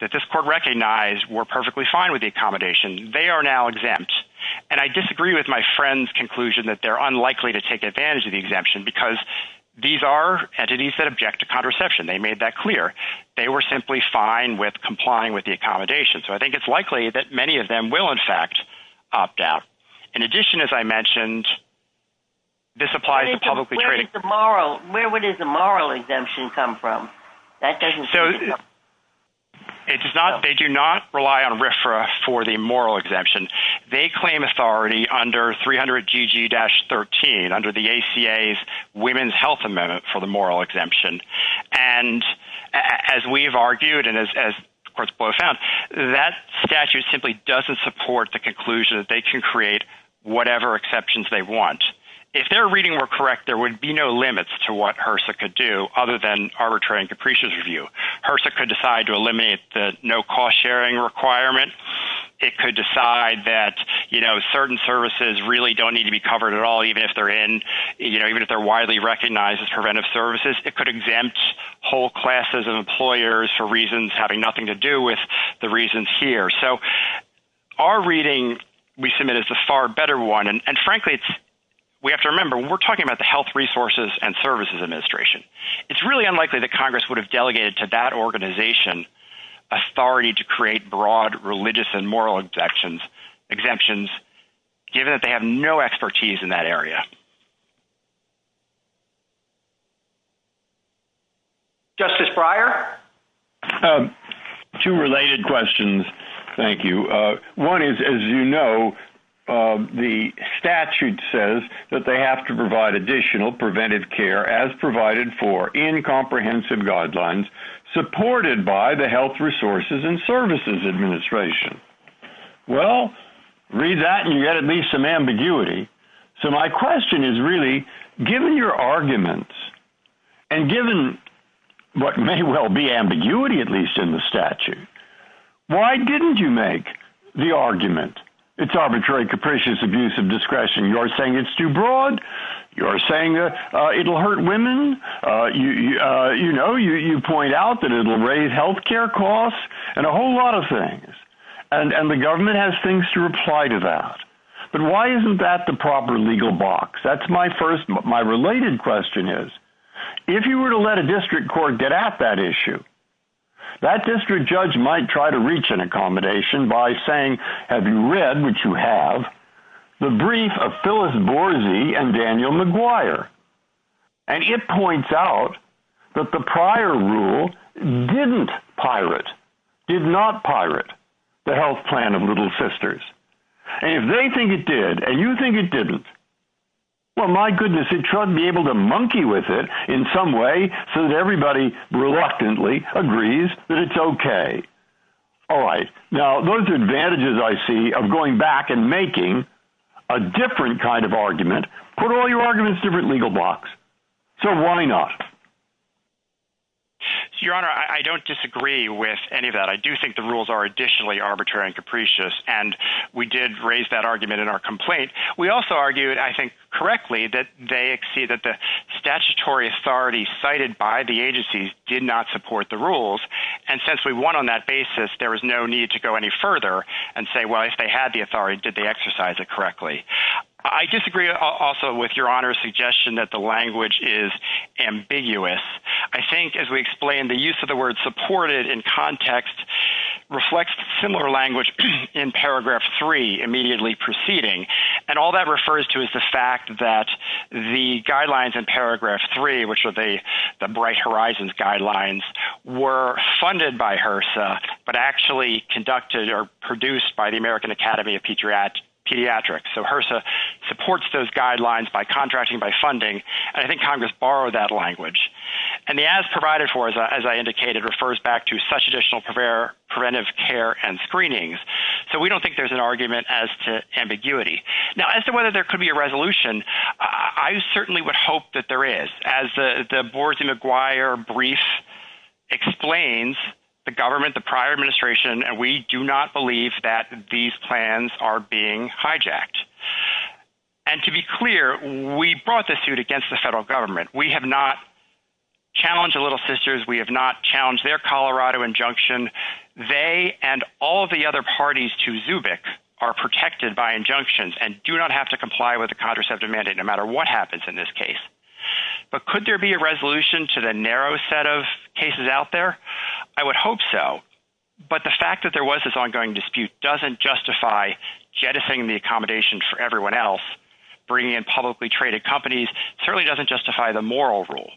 that this court recognized were perfectly fine with the accommodation, they are now exempt. And I disagree with my friend's conclusion that they're unlikely to object to contraception. They made that clear. They were simply fine with complying with the accommodation. So I think it's likely that many of them will, in fact, opt out. In addition, as I mentioned, this applies to publicly traded. Where would the moral exemption come from? It does not, they do not rely on RFRA for the moral exemption. They claim authority under 300 and as we've argued and as courts both found, that statute simply doesn't support the conclusion that they can create whatever exceptions they want. If their reading were correct, there would be no limits to what HRSA could do other than arbitrary and capricious review. HRSA could decide to eliminate the no cost sharing requirement. It could decide that, you know, certain services really don't need to be covered at all, even if they're in, you know, even if widely recognized as preventive services, it could exempt whole classes of employers for reasons having nothing to do with the reasons here. So our reading, we submit as a far better one. And frankly, we have to remember, we're talking about the health resources and services administration. It's really unlikely that Congress would have delegated to that organization authority to create broad religious and moral exemptions, given that they have no expertise in that area. Justice Breyer? Two related questions. Thank you. One is, as you know, the statute says that they have to provide additional preventive care as provided for in comprehensive guidelines supported by the health resources and services administration. Well, read that and you get at least some ambiguity. So my question is really, given your arguments, and given what may well be ambiguity, at least in the statute, why didn't you make the argument, it's arbitrary, capricious abuse of discretion, you're saying it's too broad, you're saying that it'll hurt women, you know, you point out that it'll raise health care costs, and a whole lot of things. And the government has things to reply to that. But why isn't that the proper legal box? That's my first, my related question is, if you were to let a district court get at that issue, that district judge might try to reach an accommodation by saying, have you read, which you have the brief of Phyllis Boorzy and Daniel McGuire. And it points out that the prior rule didn't pirate, did not pirate the health plan of little sisters. And if they think it did, and you think it didn't, well, my goodness, it shouldn't be able to monkey with it in some way. So everybody reluctantly agrees that it's okay. All right. Now, those advantages I see of going back and making a different kind of argument, put all your arguments in a different legal box. So why not? Your Honor, I don't disagree with any of that. I do think the rules are additionally arbitrary and capricious. And we did raise that argument in our complaint. We also argued, I think, correctly that they see that the statutory authority cited by the agency did not support the rules. And since we want on that basis, there was no need to go any further and say, well, if they had the authority, did they exercise it correctly? I disagree also with your Honor's suggestion that the language is ambiguous. I think as we explained, the use of the word supported in context reflects similar language in paragraph three, immediately proceeding. And all that refers to is the fact that the guidelines in paragraph three, which are the bright horizons guidelines were funded by HRSA, but actually conducted or produced by American Academy of Pediatrics. So HRSA supports those guidelines by contracting, by funding. And I think Congress borrowed that language. And the as provided for, as I indicated, refers back to such additional preventive care and screenings. So we don't think there's an argument as to ambiguity. Now, as to whether there could be a resolution, I certainly would hope that there is. As the Boards McGuire brief explains, the government, the prior administration, we do not believe that these plans are being hijacked. And to be clear, we brought this suit against the federal government. We have not challenged the Little Sisters. We have not challenged their Colorado injunction. They and all the other parties to Zubik are protected by injunctions and do not have to comply with the contraceptive mandate, no matter what happens in this case. But could there be a resolution to the narrow set of cases out there? I would hope so. But the fact that there was this ongoing dispute doesn't justify jettisoning the accommodation for everyone else. Bringing in publicly traded companies certainly doesn't justify the moral rule.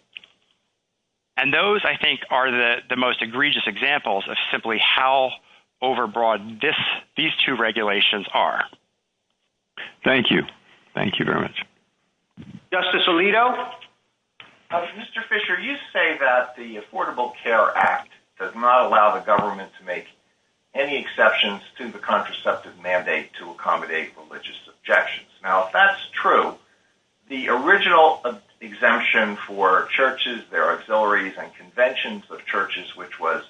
And those, I think, are the most egregious examples of simply how overbroad these two regulations are. Thank you. Thank you very much. Justice Alito? Well, Mr. Fisher, you say that the Affordable Care Act does not allow the government to make any exceptions to the contraceptive mandate to accommodate religious objections. Now, if that's true, the original exemption for churches, their auxiliaries, and conventions of churches, which was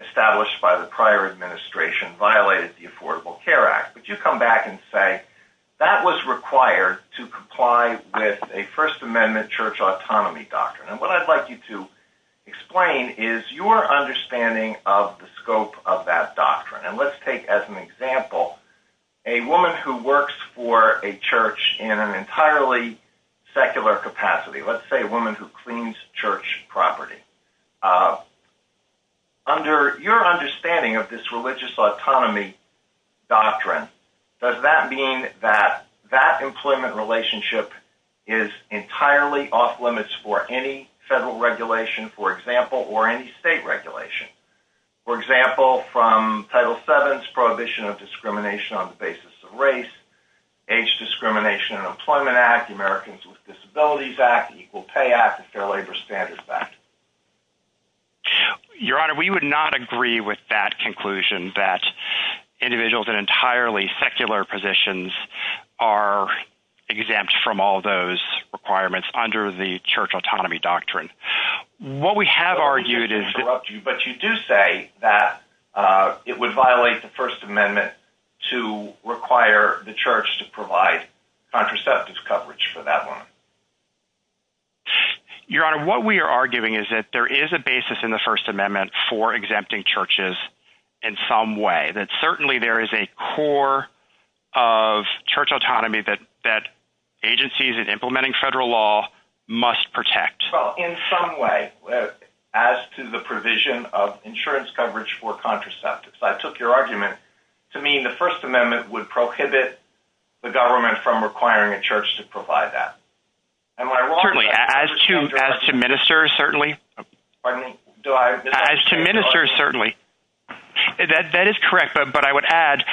established by the prior administration, violated the Affordable Care Act. Would you come back and say, that was required to comply with a First Amendment church autonomy doctrine? And what I'd like you to explain is your understanding of the scope of that doctrine. And let's take as an example, a woman who works for a church in an entirely secular capacity, let's say a woman who cleans church property. Under your understanding of this religious autonomy doctrine, does that mean that that employment relationship is entirely off-limits for any federal regulation, for example, or any state regulation? For example, from Title VII's Prohibition of Discrimination on the Basis of Race, Age Discrimination and Employment Act, Americans with Disabilities Act, Equal Pay Act, Fair Labor Standards Act? Your Honor, we would not agree with that conclusion, that individuals in entirely secular positions are exempt from all those requirements under the church autonomy doctrine. What we have argued is- I'm sorry to interrupt you, but you do say that it would violate the First Amendment to require the church to provide contraceptive coverage for that woman. Your Honor, what we are arguing is that there is a basis in the First Amendment for exempting churches in some way, that certainly there is a core of church autonomy that agencies in implementing federal law must protect. Well, in some way, as to the provision of insurance coverage for contraceptives, I took your argument to mean the First Amendment would prohibit the government from requiring a church to provide that. Am I wrong? Certainly. As to ministers, certainly. Pardon me? As to ministers, certainly. That is correct, but I would add,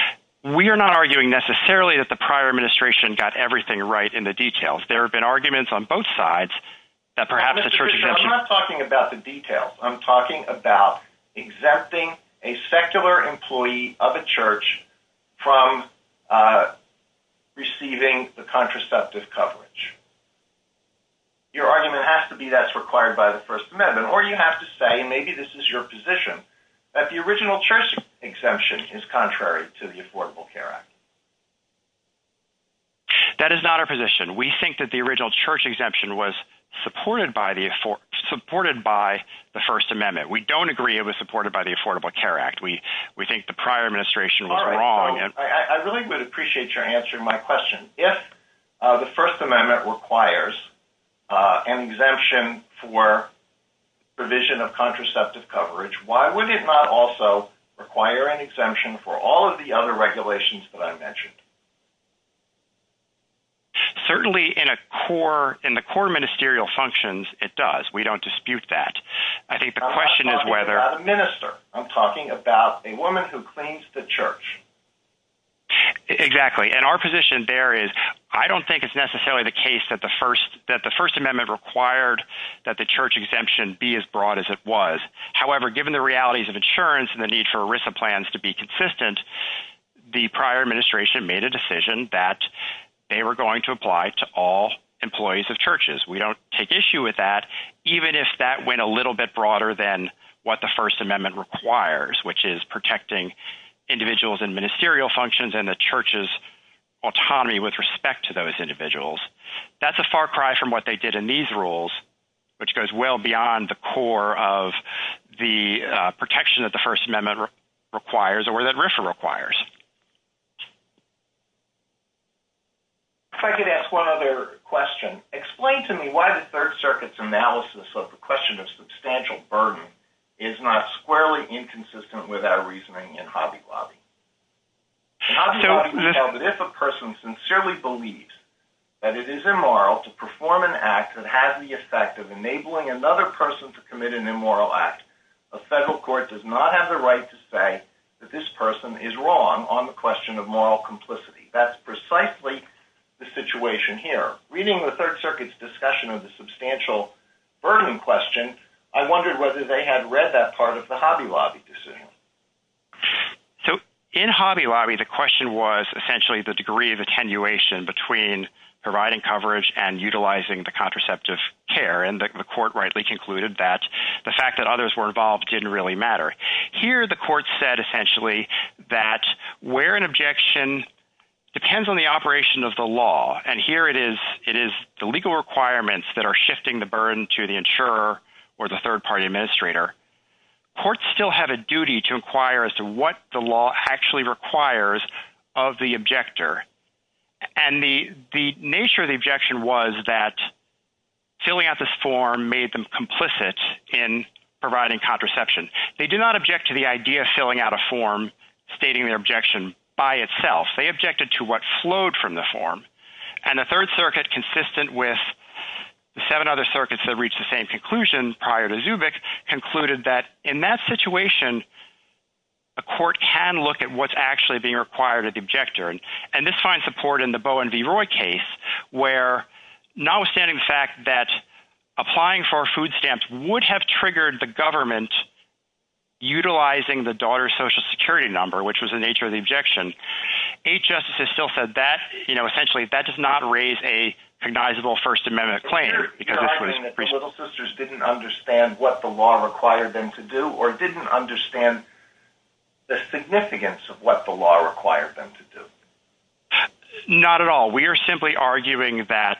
we are not arguing necessarily that the prior administration got everything right in the details. There have been arguments on both sides that perhaps the church exemption- Mr. Fisher, I'm not talking about the details. I'm talking about a secular employee of a church from receiving the contraceptive coverage. Your argument has to be that's required by the First Amendment, or you have to say, maybe this is your position, that the original church exemption is contrary to the Affordable Care Act. That is not our position. We think that the original church exemption was supported by the First Amendment. We don't agree it was supported by the Affordable Care Act. We think the prior administration was wrong. I really would appreciate your answering my question. If the First Amendment requires an exemption for provision of contraceptive coverage, why would it not also require an exemption for all of the other regulations that I mentioned? Certainly, in the core ministerial functions, it does. We don't dispute that. I think the question is whether- I'm not talking about a minister. I'm talking about a woman who cleans the church. Exactly. And our position there is, I don't think it's necessarily the case that the First Amendment required that the church exemption be as broad as it was. However, given the realities of insurance and the need for ERISA plans to be consistent, the prior administration may have made a decision that they were going to apply to all employees of churches. We don't take issue with that, even if that went a little bit broader than what the First Amendment requires, which is protecting individuals in ministerial functions and the church's autonomy with respect to those individuals. That's a far cry from what they did in these rules, which goes well beyond the core of the protection that the First Amendment requires or that ERISA requires. If I could ask one other question. Explain to me why the Third Circuit's analysis of the question of substantial burden is not squarely inconsistent with our reasoning in Hobby Lobby? If a person sincerely believes that it is immoral to perform an act that has the effect of enabling another person to commit an immoral act, a federal court does not have the right to say that this That's precisely the situation here. Reading the Third Circuit's discussion of the substantial burden question, I wondered whether they had read that part of the Hobby Lobby decision. So in Hobby Lobby, the question was essentially the degree of attenuation between providing coverage and utilizing the contraceptive care, and the court rightly concluded that the fact that others were involved didn't really matter. Here the court said essentially that where an objection depends on the operation of the law, and here it is the legal requirements that are shifting the burden to the insurer or the third party administrator. Courts still have a duty to inquire as to what the law actually requires of the objector, and the nature of the objection was that filling out this form made them complicit in providing contraception. They did not object to the idea of filling out a form stating their objection by itself. They objected to what flowed from the form, and the Third Circuit, consistent with the seven other circuits that reached the same conclusion prior to Zubik, concluded that in that situation a court can look at what's actually being required of the objector, and this finds support in the Bowen v. Roy case, where not the daughter's social security number, which was the nature of the objection. Eighth Justice has still said that, you know, essentially that does not raise a recognizable First Amendment claim. You're arguing that the Little Sisters didn't understand what the law required them to do, or didn't understand the significance of what the law required them to do? Not at all. We are simply arguing that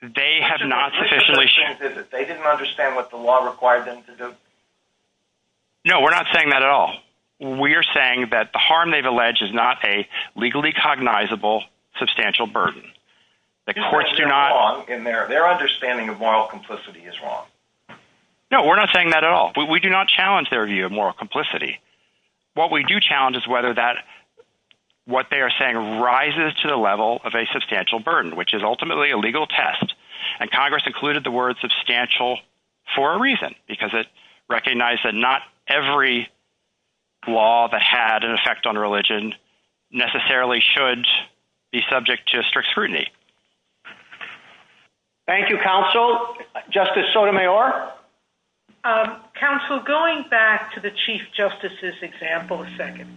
they have not sufficiently... They didn't understand what the law required them to do? No, we're not saying that at all. We are saying that the harm they've alleged is not a legally cognizable substantial burden. The courts do not... Their understanding of moral complicity is wrong. No, we're not saying that at all. We do not challenge their view of moral complicity. What we do challenge is whether that what they are saying rises to the level of a substantial burden, which is ultimately a legal test, and Congress included the word substantial for a recognized that not every law that had an effect on religion necessarily should be subject to strict scrutiny. Thank you, Counsel. Justice Sotomayor? Counsel, going back to the Chief Justice's example a second,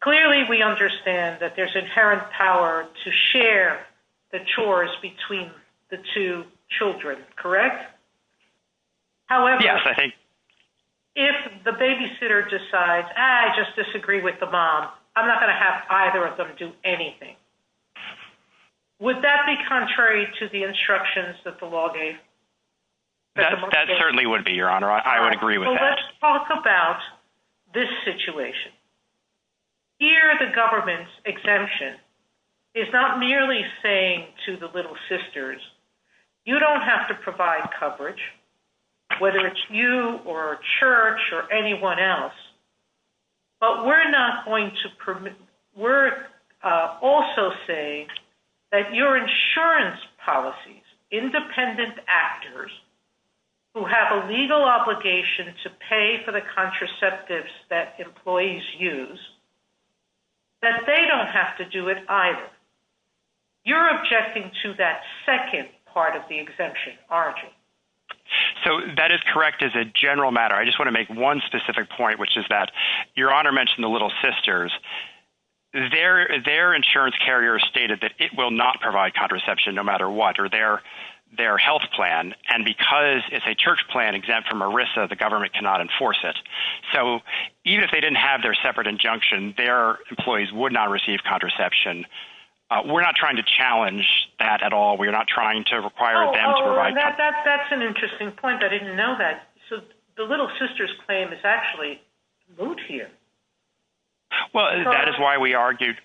clearly we understand that there's inherent power to share the chores between the two children, correct? However... Yes, I think... If the babysitter decides, I just disagree with the mom, I'm not going to have either of them do anything. Would that be contrary to the instructions that the law gave? That certainly would be, Your Honor. I would agree with that. Well, let's talk about this situation. Here, the government's exemption is not merely saying to the little sisters, you don't have to provide coverage, whether it's you or a church or anyone else, but we're not going to... We're also saying that your insurance policies, independent actors who have a legal obligation to pay for the contraceptives that employees use, that they don't have to do it either. You're objecting to that second part of the exemption, aren't you? So that is correct as a general matter. I just want to make one specific point, which is that Your Honor mentioned the little sisters. Their insurance carrier stated that it will not provide contraception no matter what, or their health plan, and because it's a church plan exempt from ERISA, the government cannot enforce it. So even if they didn't have their separate injunction, their employees would not receive contraception. We're not trying to challenge that at all. We're not trying to require them to provide... That's an interesting point. I didn't know that. So the little sisters claim is actually moved here. Well, that is why we argued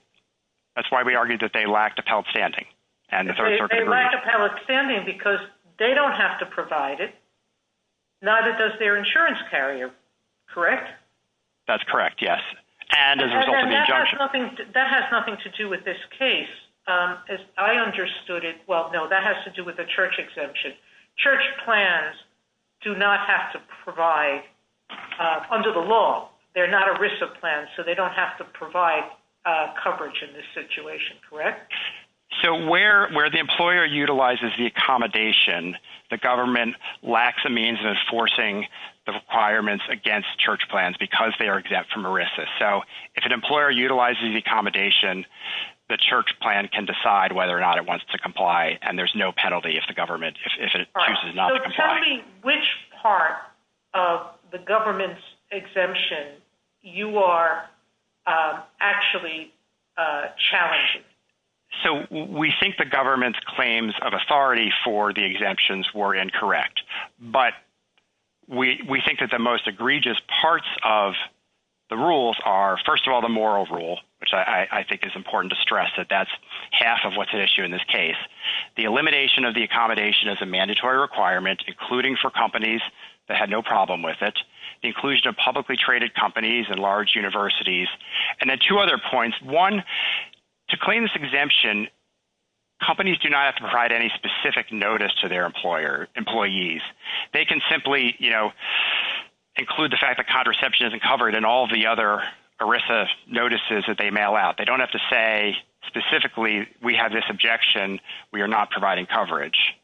that they lacked appellate standing. They lacked appellate standing because they don't have to provide it, neither does their insurance carrier. Correct? That's correct, yes, and as a result of the injunction. That has nothing to do with this case. As I understood it, well, no, that has to do with the church exemption. Church plans do not have to provide, under the law, they're not ERISA plans, so they don't have to provide coverage in this situation, correct? So where the employer utilizes the accommodation, the government lacks the means of enforcing the requirements against church plans because they are exempt from ERISA. So if an employer utilizes the accommodation, the church plan can decide whether or not it wants to comply, and there's no penalty if the government, if it chooses not to comply. So tell me which part of the government's exemption you are actually challenging? So we think the government's claims of authority for the exemptions were incorrect, but we think that the most egregious parts of the rules are, first of all, the moral rule, which I think is important to stress that that's half of what's at issue in this case. The elimination of the accommodation as a mandatory requirement, including for companies that had no problem with it, the inclusion of publicly traded companies and large universities, and then two other points. One, to claim this exemption, companies do not have to provide any They can simply include the fact that contraception isn't covered in all the other ERISA notices that they mail out. They don't have to say specifically, we have this objection, we are not providing coverage.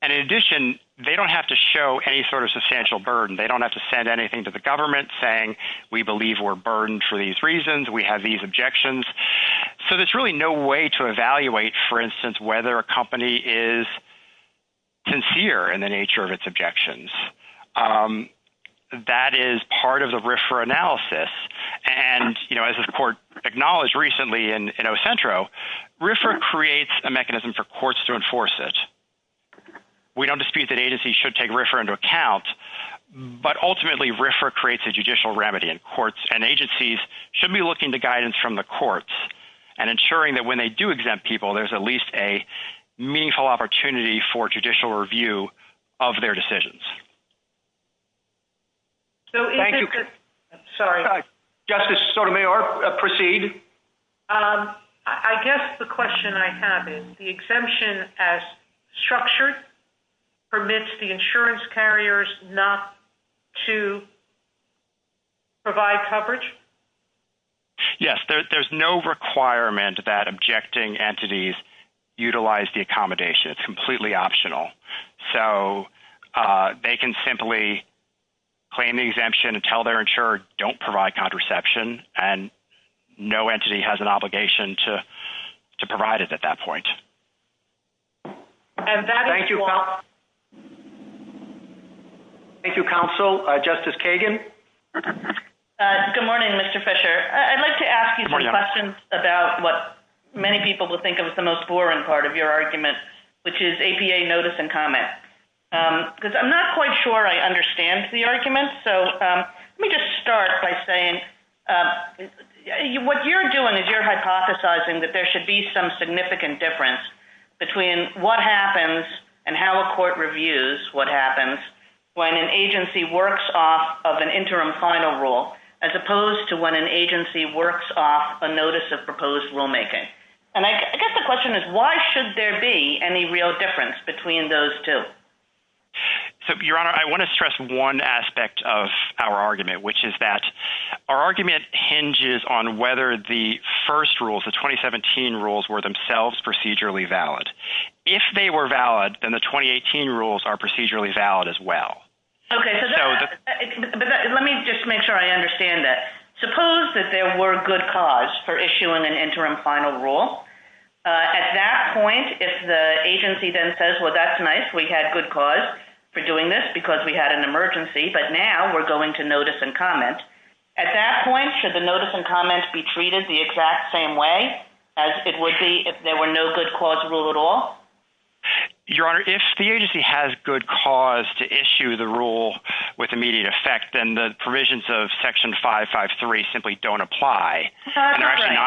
And in addition, they don't have to show any sort of substantial burden. They don't have to send anything to the government saying, we believe we're burdened for these reasons, we have these objections. So there's really no way to evaluate, for instance, whether a company is sincere in the nature of its objections. That is part of the RFRA analysis. And, you know, as the court acknowledged recently in Ocentro, RFRA creates a mechanism for courts to enforce it. We don't dispute that agencies should take RFRA into account. But ultimately, RFRA creates a judicial remedy and courts and agencies should be looking to guidance from the meaningful opportunity for judicial review of their decisions. Justice Sotomayor, proceed. I guess the question I have is the exemption as structured permits the insurance carriers not to provide coverage? Yes, there's no requirement that objecting entities utilize the accommodation. It's completely optional. So they can simply claim the exemption and tell their insurer don't provide contraception and no entity has an obligation to provide it at that point. Thank you, counsel. Justice Kagan. Good morning, Mr. Fisher. I'd like to ask you some questions about what many people would think of as the most boring part of your argument, which is APA notice and comment. I'm not quite sure I understand the argument. So let me just start by saying what you're doing is you're hypothesizing that there should be some significant difference between what happens and how a court reviews what happens when an agency works off of an interim final rule as opposed to when an agency works off a notice of proposed rulemaking. And I guess the question is why should there be any real difference between those two? Your Honor, I want to stress one aspect of our argument, which is that our argument hinges on whether the first rules, the 2017 rules, were themselves procedurally valid. If they were valid, then the 2018 rules are procedurally valid as well. Okay, so let me just make sure I understand that. Suppose that there were good cause for issuing an interim final rule. At that point, if the agency then says, well, that's nice, we had good cause for doing this because we had an emergency, but now we're going to notice and comment. At that point, would that be if there were no good cause rule at all? Your Honor, if the agency has good cause to issue the rule with immediate effect, then the provisions of Section 553 simply don't apply. I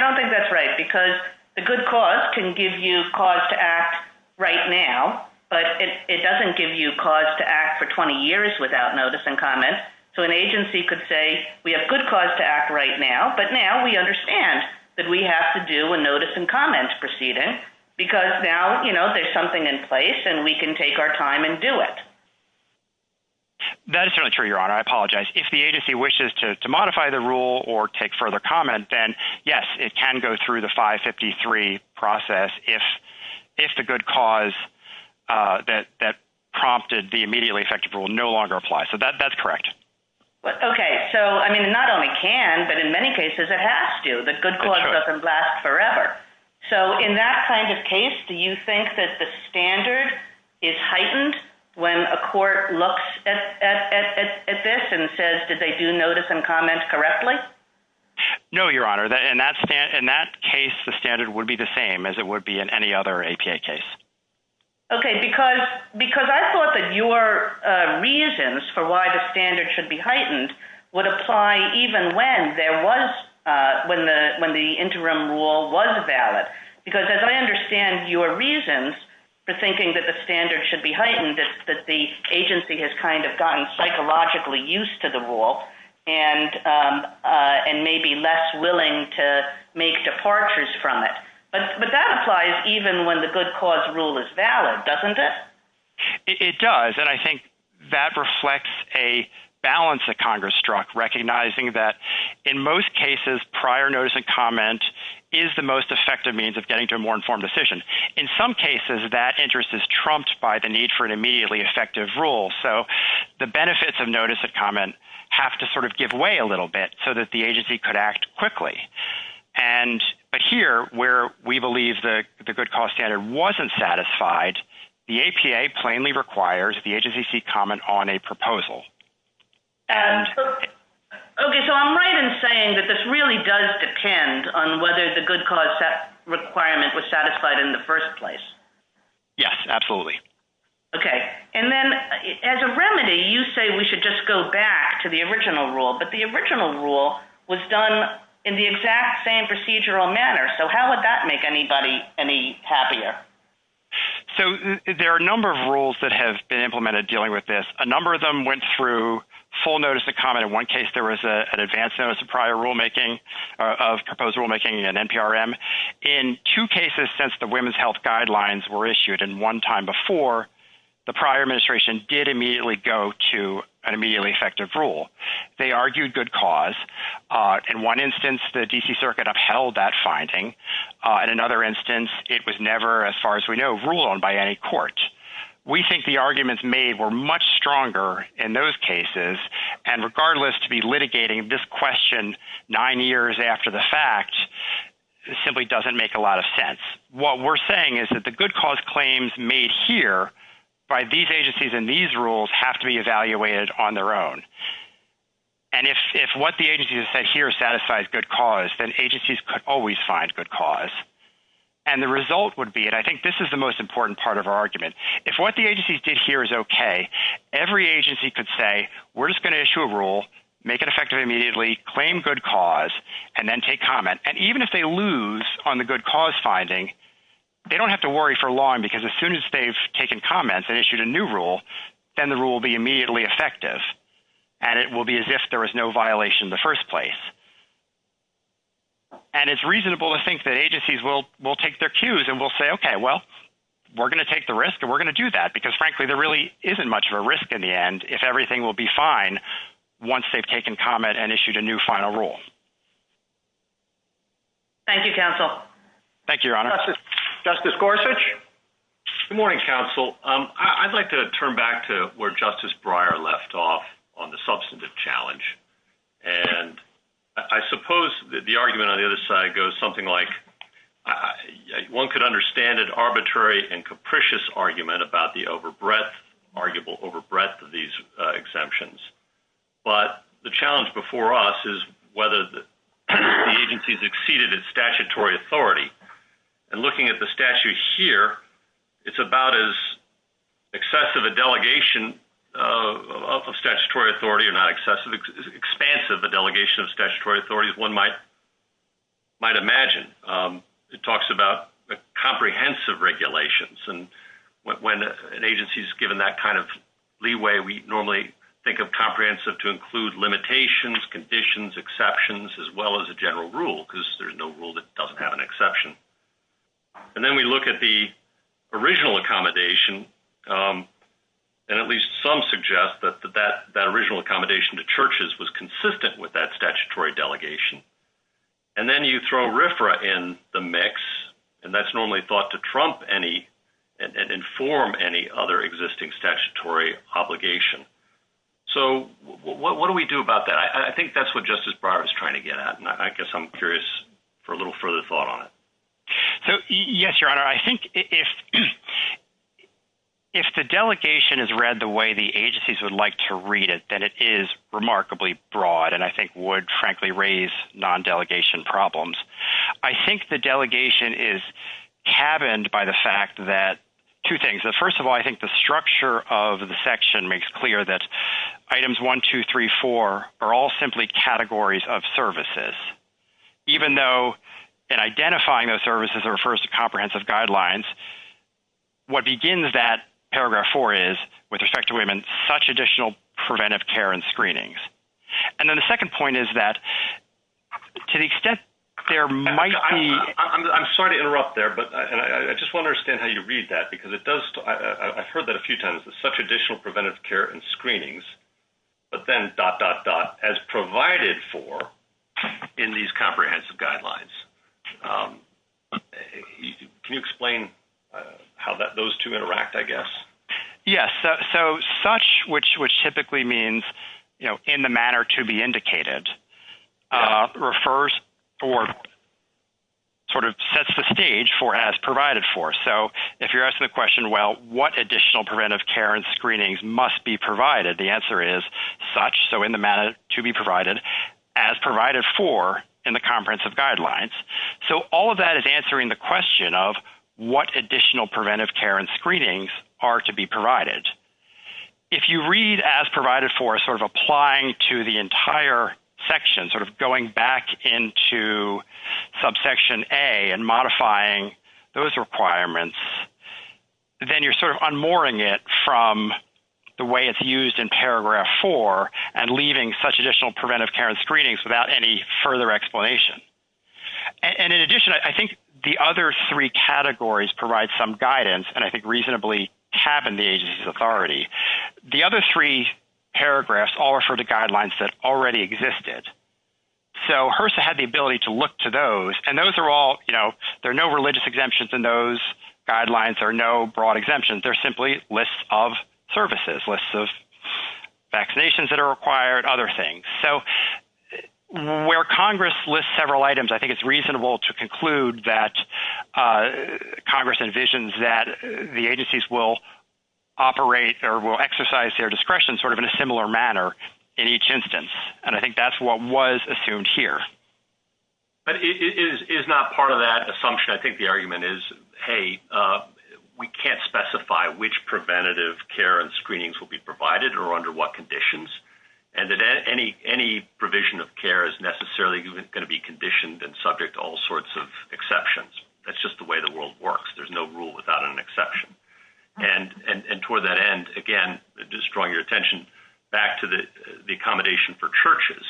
don't think that's right because a good cause can give you cause to act right now, but it doesn't give you cause to act for 20 years without notice and comment. So an agency could say we have good cause to act right now, but now we understand that we have to do a notice and comment proceeding because now, you know, there's something in place and we can take our time and do it. That's not true, Your Honor. I apologize. If the agency wishes to modify the rule or take further comment, then yes, it can go through the 553 process if the good cause that prompted the but in many cases, it has to. The good cause doesn't last forever. So in that kind of case, do you think that the standard is heightened when a court looks at this and says that they do notice and comment correctly? No, Your Honor. In that case, the standard would be the same as it would be in any other APA case. Okay, because I thought that your reasons for why the standard should be heightened was when the interim rule was valid. Because as I understand your reasons for thinking that the standard should be heightened, that the agency has kind of gotten psychologically used to the rule and may be less willing to make departures from it. But that applies even when the good cause rule is valid, doesn't it? It does, and I think that reflects a balance that Congress struck, recognizing that in most cases, prior notice and comment is the most effective means of getting to a more informed decision. In some cases, that interest is trumped by the need for an immediately effective rule. So the benefits of notice and comment have to sort of give way a little bit so that the agency could act quickly. But here, where we believe the good cause standard wasn't satisfied, the APA plainly requires the agency to comment on a proposal. Okay, so I'm right in saying that this really does depend on whether the good cause requirement was satisfied in the first place. Yes, absolutely. Okay, and then as a remedy, you say we should just go back to the original rule, but the original rule was done in the exact same procedural manner. So how would that make anybody any happier? So there are a number of rules that have been implemented dealing with this. A number of them went through full notice and comment. In one case, there was an advance notice of prior rulemaking of proposed rulemaking and NPRM. In two cases since the women's health guidelines were issued and one time before, the prior administration did immediately go to an immediately effective rule. They argued good cause. In one instance, the D.C. Circuit upheld that finding. In another instance, it was never, as far as we know, ruled on by any court. We think the arguments made were much stronger in those cases, and regardless to be litigating this question nine years after the fact, simply doesn't make a lot of sense. What we're saying is that the good cause claims made here by these agencies and these rules have to be evaluated on their own, and if what the agency has said here satisfies good cause, then agencies could always find good cause, and the result would be, and I think this is the most important part of our argument, if what the agencies did here is okay, every agency could say we're just going to issue a rule, make it effective immediately, claim good cause, and then take comment, and even if they lose on the good cause finding, they don't have to worry for long because as soon as they've taken comment and issued a new rule, then the rule will be immediately effective, and it will be as if there was no violation in the first place, and it's reasonable to think that agencies will take their cues and will say, okay, well, we're going to take the risk, and we're going to do that because, frankly, there really isn't much of a risk in the end if everything will be fine once they've taken comment and issued a new final rule. Thank you, counsel. Thank you, your honor. Justice Gorsuch. Good morning, counsel. I'd like to turn back to where Justice Breyer left off on the substantive challenge, and I suppose that the argument on the other side goes something like one could understand an arbitrary and capricious argument about the overbreadth, arguable overbreadth of these exemptions, but the challenge before us is whether the agencies exceeded its statutory authority, and looking at the statute here, it's about as excessive a delegation of statutory authority, or not excessive, expansive a delegation of statutory authority as one might imagine. It talks about the comprehensive regulations, and when an agency is given that kind of leeway, we normally think of comprehensive to include limitations, conditions, exceptions, as well as a general rule because there's no rule that doesn't have an exception, and then we look at the original accommodation, and at least some suggest that that original accommodation to churches was consistent with that statutory delegation, and then you throw RFRA in the mix, and that's normally thought to trump any and inform any other existing statutory obligation. So what do we do about that? I think that's what Justice Breyer is trying to get at, and I guess I'm curious for a little further thought on it. So yes, your honor, I think if the delegation is read the way the agencies would like to read it, then it is remarkably broad, and I think would frankly raise non-delegation problems. I think the delegation is cabined by the fact that two things. First of all, I think the structure of the section makes clear that items 1, 2, 3, 4 are all simply categories of services, even though identifying those services refers to comprehensive guidelines. What begins that paragraph 4 is, with respect to women, such additional preventive care and screenings, and then the second point is that to the extent there might be... I'm sorry to interrupt there, but I just want to understand how you read that, because I've heard that a few times, that such additional preventive care and screenings, but then dot, dot, dot, as provided for in these comprehensive guidelines. Can you explain how those two interact, I guess? Yes, so such, which typically means, you know, in the manner to be indicated, refers or sort of sets the stage for as provided for. So, if you're asking the question, well, what additional preventive care and screenings must be provided, the answer is such, so in the manner to be provided, as provided for in the comprehensive guidelines. So, all of that is answering the question of what additional preventive care and screenings are to be provided. If you read, as provided for, sort of applying to the entire section, sort of going back into subsection A and modifying those requirements, then you're sort of unmooring it from the way it's used in paragraph 4 and leaving such additional preventive care and screenings without any further explanation. And in addition, I think the other three categories provide some guidance, and I think reasonably tab in the agency's authority. The other three paragraphs all refer to guidelines that already existed. So, HRSA had the ability to look to those, and those are all, you know, there are no religious exemptions in those guidelines. There are no broad exemptions. They're simply lists of services, lists of vaccinations that are required, other things. So, where Congress lists several items, I think it's reasonable to conclude that Congress envisions that the agencies will operate or will exercise their discretion sort of in a similar manner in each instance, and I think that's what was assumed here. But it is not part of that assumption. I think the argument is, hey, we can't specify which preventative care and screenings will be provided or under what conditions, and any provision of care is necessarily going to be conditioned and subject to all sorts of exceptions. That's just the way the world works. There's no rule without an exception. And toward that end, again, just drawing your attention back to the accommodation for churches,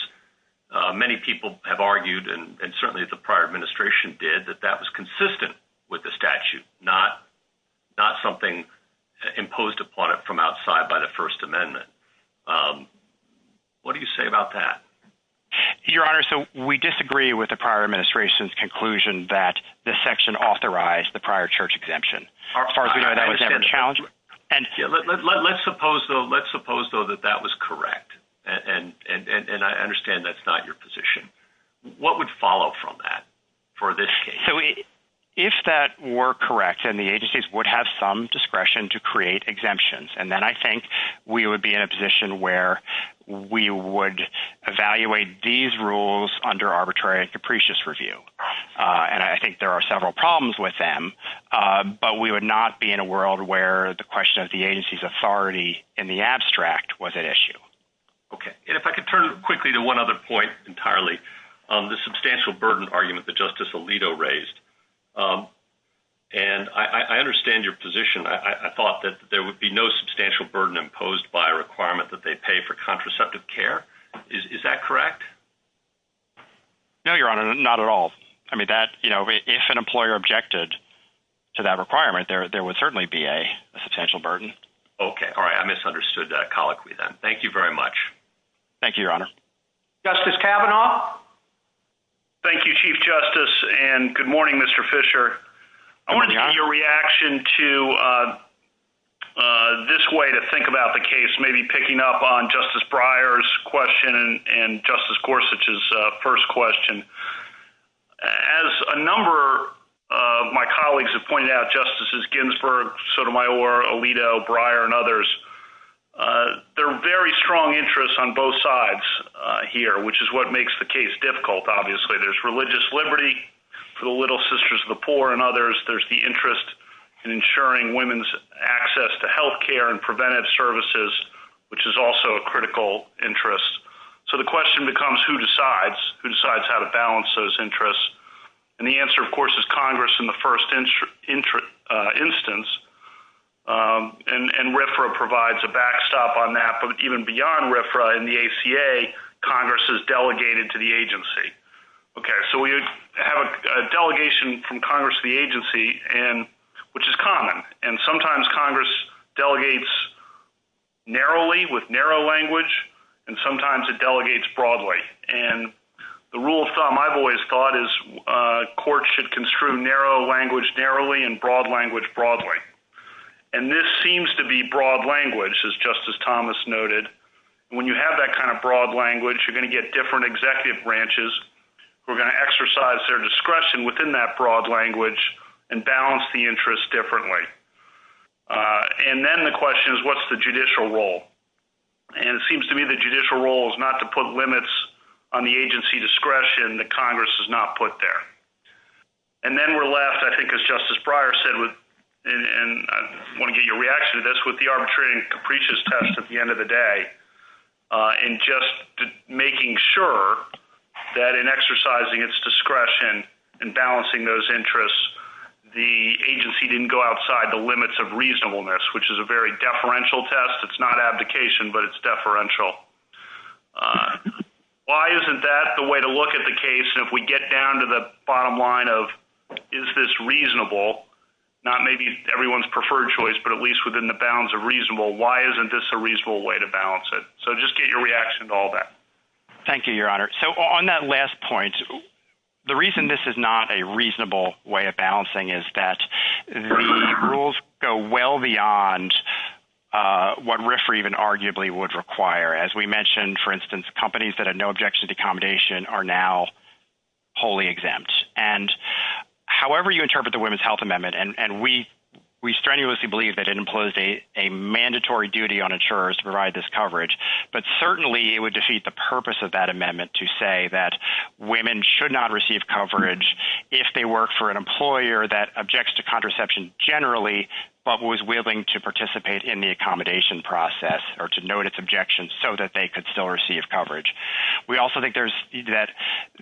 many people have argued, and certainly the prior administration did, that that was consistent with the statute, not something imposed upon it from outside by the First Amendment. What do you say about that? Your Honor, so we disagree with the prior administration's conclusion that the section authorized the prior church exemption. Let's suppose, though, that that was correct, and I understand that's not your position. What would follow from that for this case? So, if that were correct, then the agencies would have some discretion to create evaluate these rules under arbitrary and capricious review. And I think there are several problems with them, but we would not be in a world where the question of the agency's authority in the abstract was at issue. Okay. And if I could turn quickly to one other point entirely, the substantial burden argument that Justice Alito raised. And I understand your position. I thought that there would be no substantial burden imposed by a requirement that they pay for contraceptive care. Is that correct? No, Your Honor, not at all. I mean, if an employer objected to that requirement, there would certainly be a substantial burden. Okay. All right. I misunderstood that colloquy then. Thank you very much. Thank you, Your Honor. Justice Kavanaugh. Thank you, Chief Justice, and good morning, Mr. Fisher. I'm wondering your reaction to this way to think about the case, maybe picking up on Justice Breyer's question and Justice Gorsuch's first question. As a number of my colleagues have pointed out, Justices Ginsburg, Sotomayor, Alito, Breyer, and others, there are very strong interests on both sides here, which is what makes the case difficult, obviously. There's religious liberty for the Little Sisters of the Poor and others. There's the interest in ensuring women's access to health care and preventive services, which is also a critical interest. So the question becomes, who decides? Who decides how to balance those interests? And the answer, of course, is Congress in the first instance. And RFRA provides a backstop on that. But even beyond RFRA and the ACA, Congress is delegated to the agency. Okay. So we have a delegation from Congress to the agency, which is common. And sometimes Congress delegates narrowly with narrow language, and sometimes it delegates broadly. And the rule of thumb I've always thought is courts should construe narrow language narrowly and broad language broadly. And this seems to be broad language, as Justice Thomas noted. When you have that kind of broad language, you're going to get different executive branches who are going to exercise their discretion within that broad language and balance the interests differently. And then the question is, what's the judicial role? And it seems to me the judicial role is not to put limits on the agency discretion that Congress has not put there. And then we're left, I think as Justice Breyer said, and I want to get your test at the end of the day, in just making sure that in exercising its discretion and balancing those interests, the agency didn't go outside the limits of reasonableness, which is a very deferential test. It's not abdication, but it's deferential. Why isn't that the way to look at the case? And if we get down to the bottom line of, is this reasonable, not maybe everyone's choice, but at least within the bounds of reasonable, why isn't this a reasonable way to balance it? So just get your reaction to all that. Thank you, Your Honor. So on that last point, the reason this is not a reasonable way of balancing is that the rules go well beyond what RFRA even arguably would require. As we mentioned, for instance, companies that have no objection to accommodation are now wholly exempt. And however you interpret the Women's Health Amendment, and we strenuously believe that it implies a mandatory duty on insurers to provide this coverage, but certainly it would defeat the purpose of that amendment to say that women should not receive coverage if they work for an employer that objects to contraception generally, but was willing to participate in the accommodation process or to note its objections so that they could still receive coverage. We also think there's that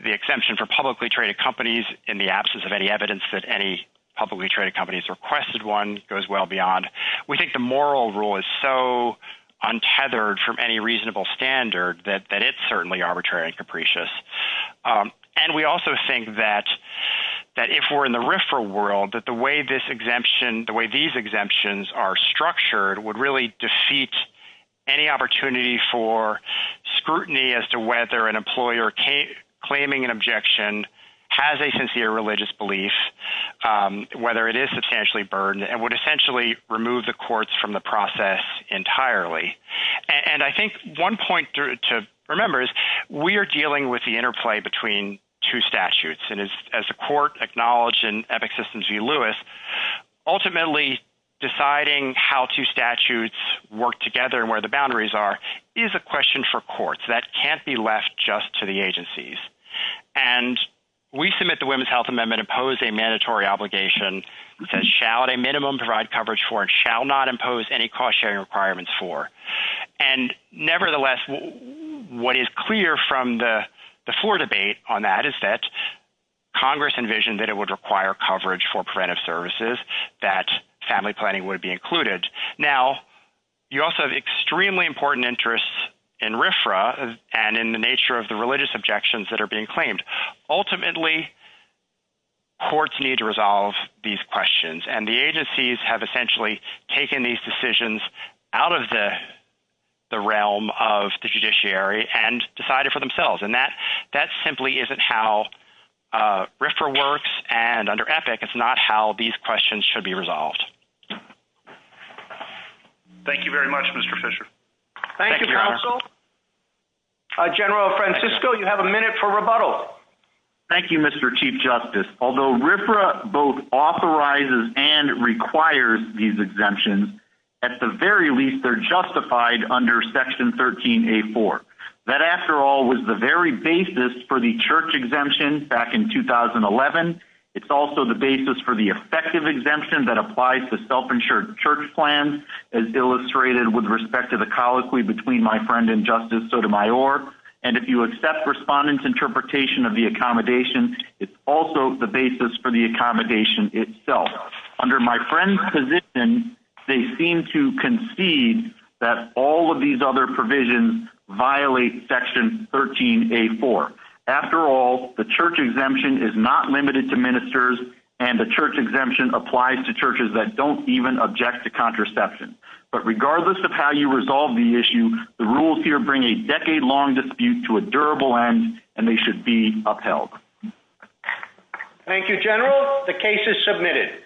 the exemption for publicly traded companies in the absence of any evidence that any publicly traded companies requested one goes well beyond. We think the moral rule is so untethered from any reasonable standard that it's certainly arbitrary and capricious. And we also think that if we're in the RFRA world, that the way this exemption, the way these exemptions are structured would really defeat any opportunity for scrutiny as to whether an employer claiming an objection has a sincere religious belief, whether it is substantially burdened, and would essentially remove the courts from the process entirely. And I think one point to remember is we are dealing with the interplay between two statutes. And as the court acknowledged in Epic Systems v. Lewis, ultimately deciding how two statutes work together and where the boundaries are is a question for courts that can't be left just to the agencies. And we submit the Women's Health Amendment to impose a mandatory obligation that shall at a minimum provide coverage for and shall not impose any cost sharing requirements for. And nevertheless, what is clear from the floor debate on that is that Congress envisioned that it would require coverage for preventive services, that family planning would be included. Now, you also have extremely important interests in RFRA and in the nature of the religious objections that are being claimed. Ultimately, courts need to resolve these questions. And the agencies have essentially taken these decisions out of the realm of the judiciary and decided for themselves. And that simply isn't how RFRA works. And under Epic, it's not how these questions should be addressed. Thank you very much, Mr. Fischer. Thank you, counsel. General Francisco, you have a minute for rebuttal. Thank you, Mr. Chief Justice. Although RFRA both authorizes and requires these exemptions, at the very least, they're justified under Section 13a.4. That, after all, was the very basis for the church exemption back in 2011. It's also the respect to the colloquy between my friend and Justice Sotomayor. And if you accept respondents' interpretation of the accommodation, it's also the basis for the accommodation itself. Under my friend's position, they seem to concede that all of these other provisions violate Section 13a.4. After all, the church exemption is not limited to ministers, and the church exemption applies to churches that don't even object to contraception. But regardless of how you resolve the issue, the rules here bring a decade-long dispute to a durable end, and they should be upheld. Thank you, General. The case is submitted.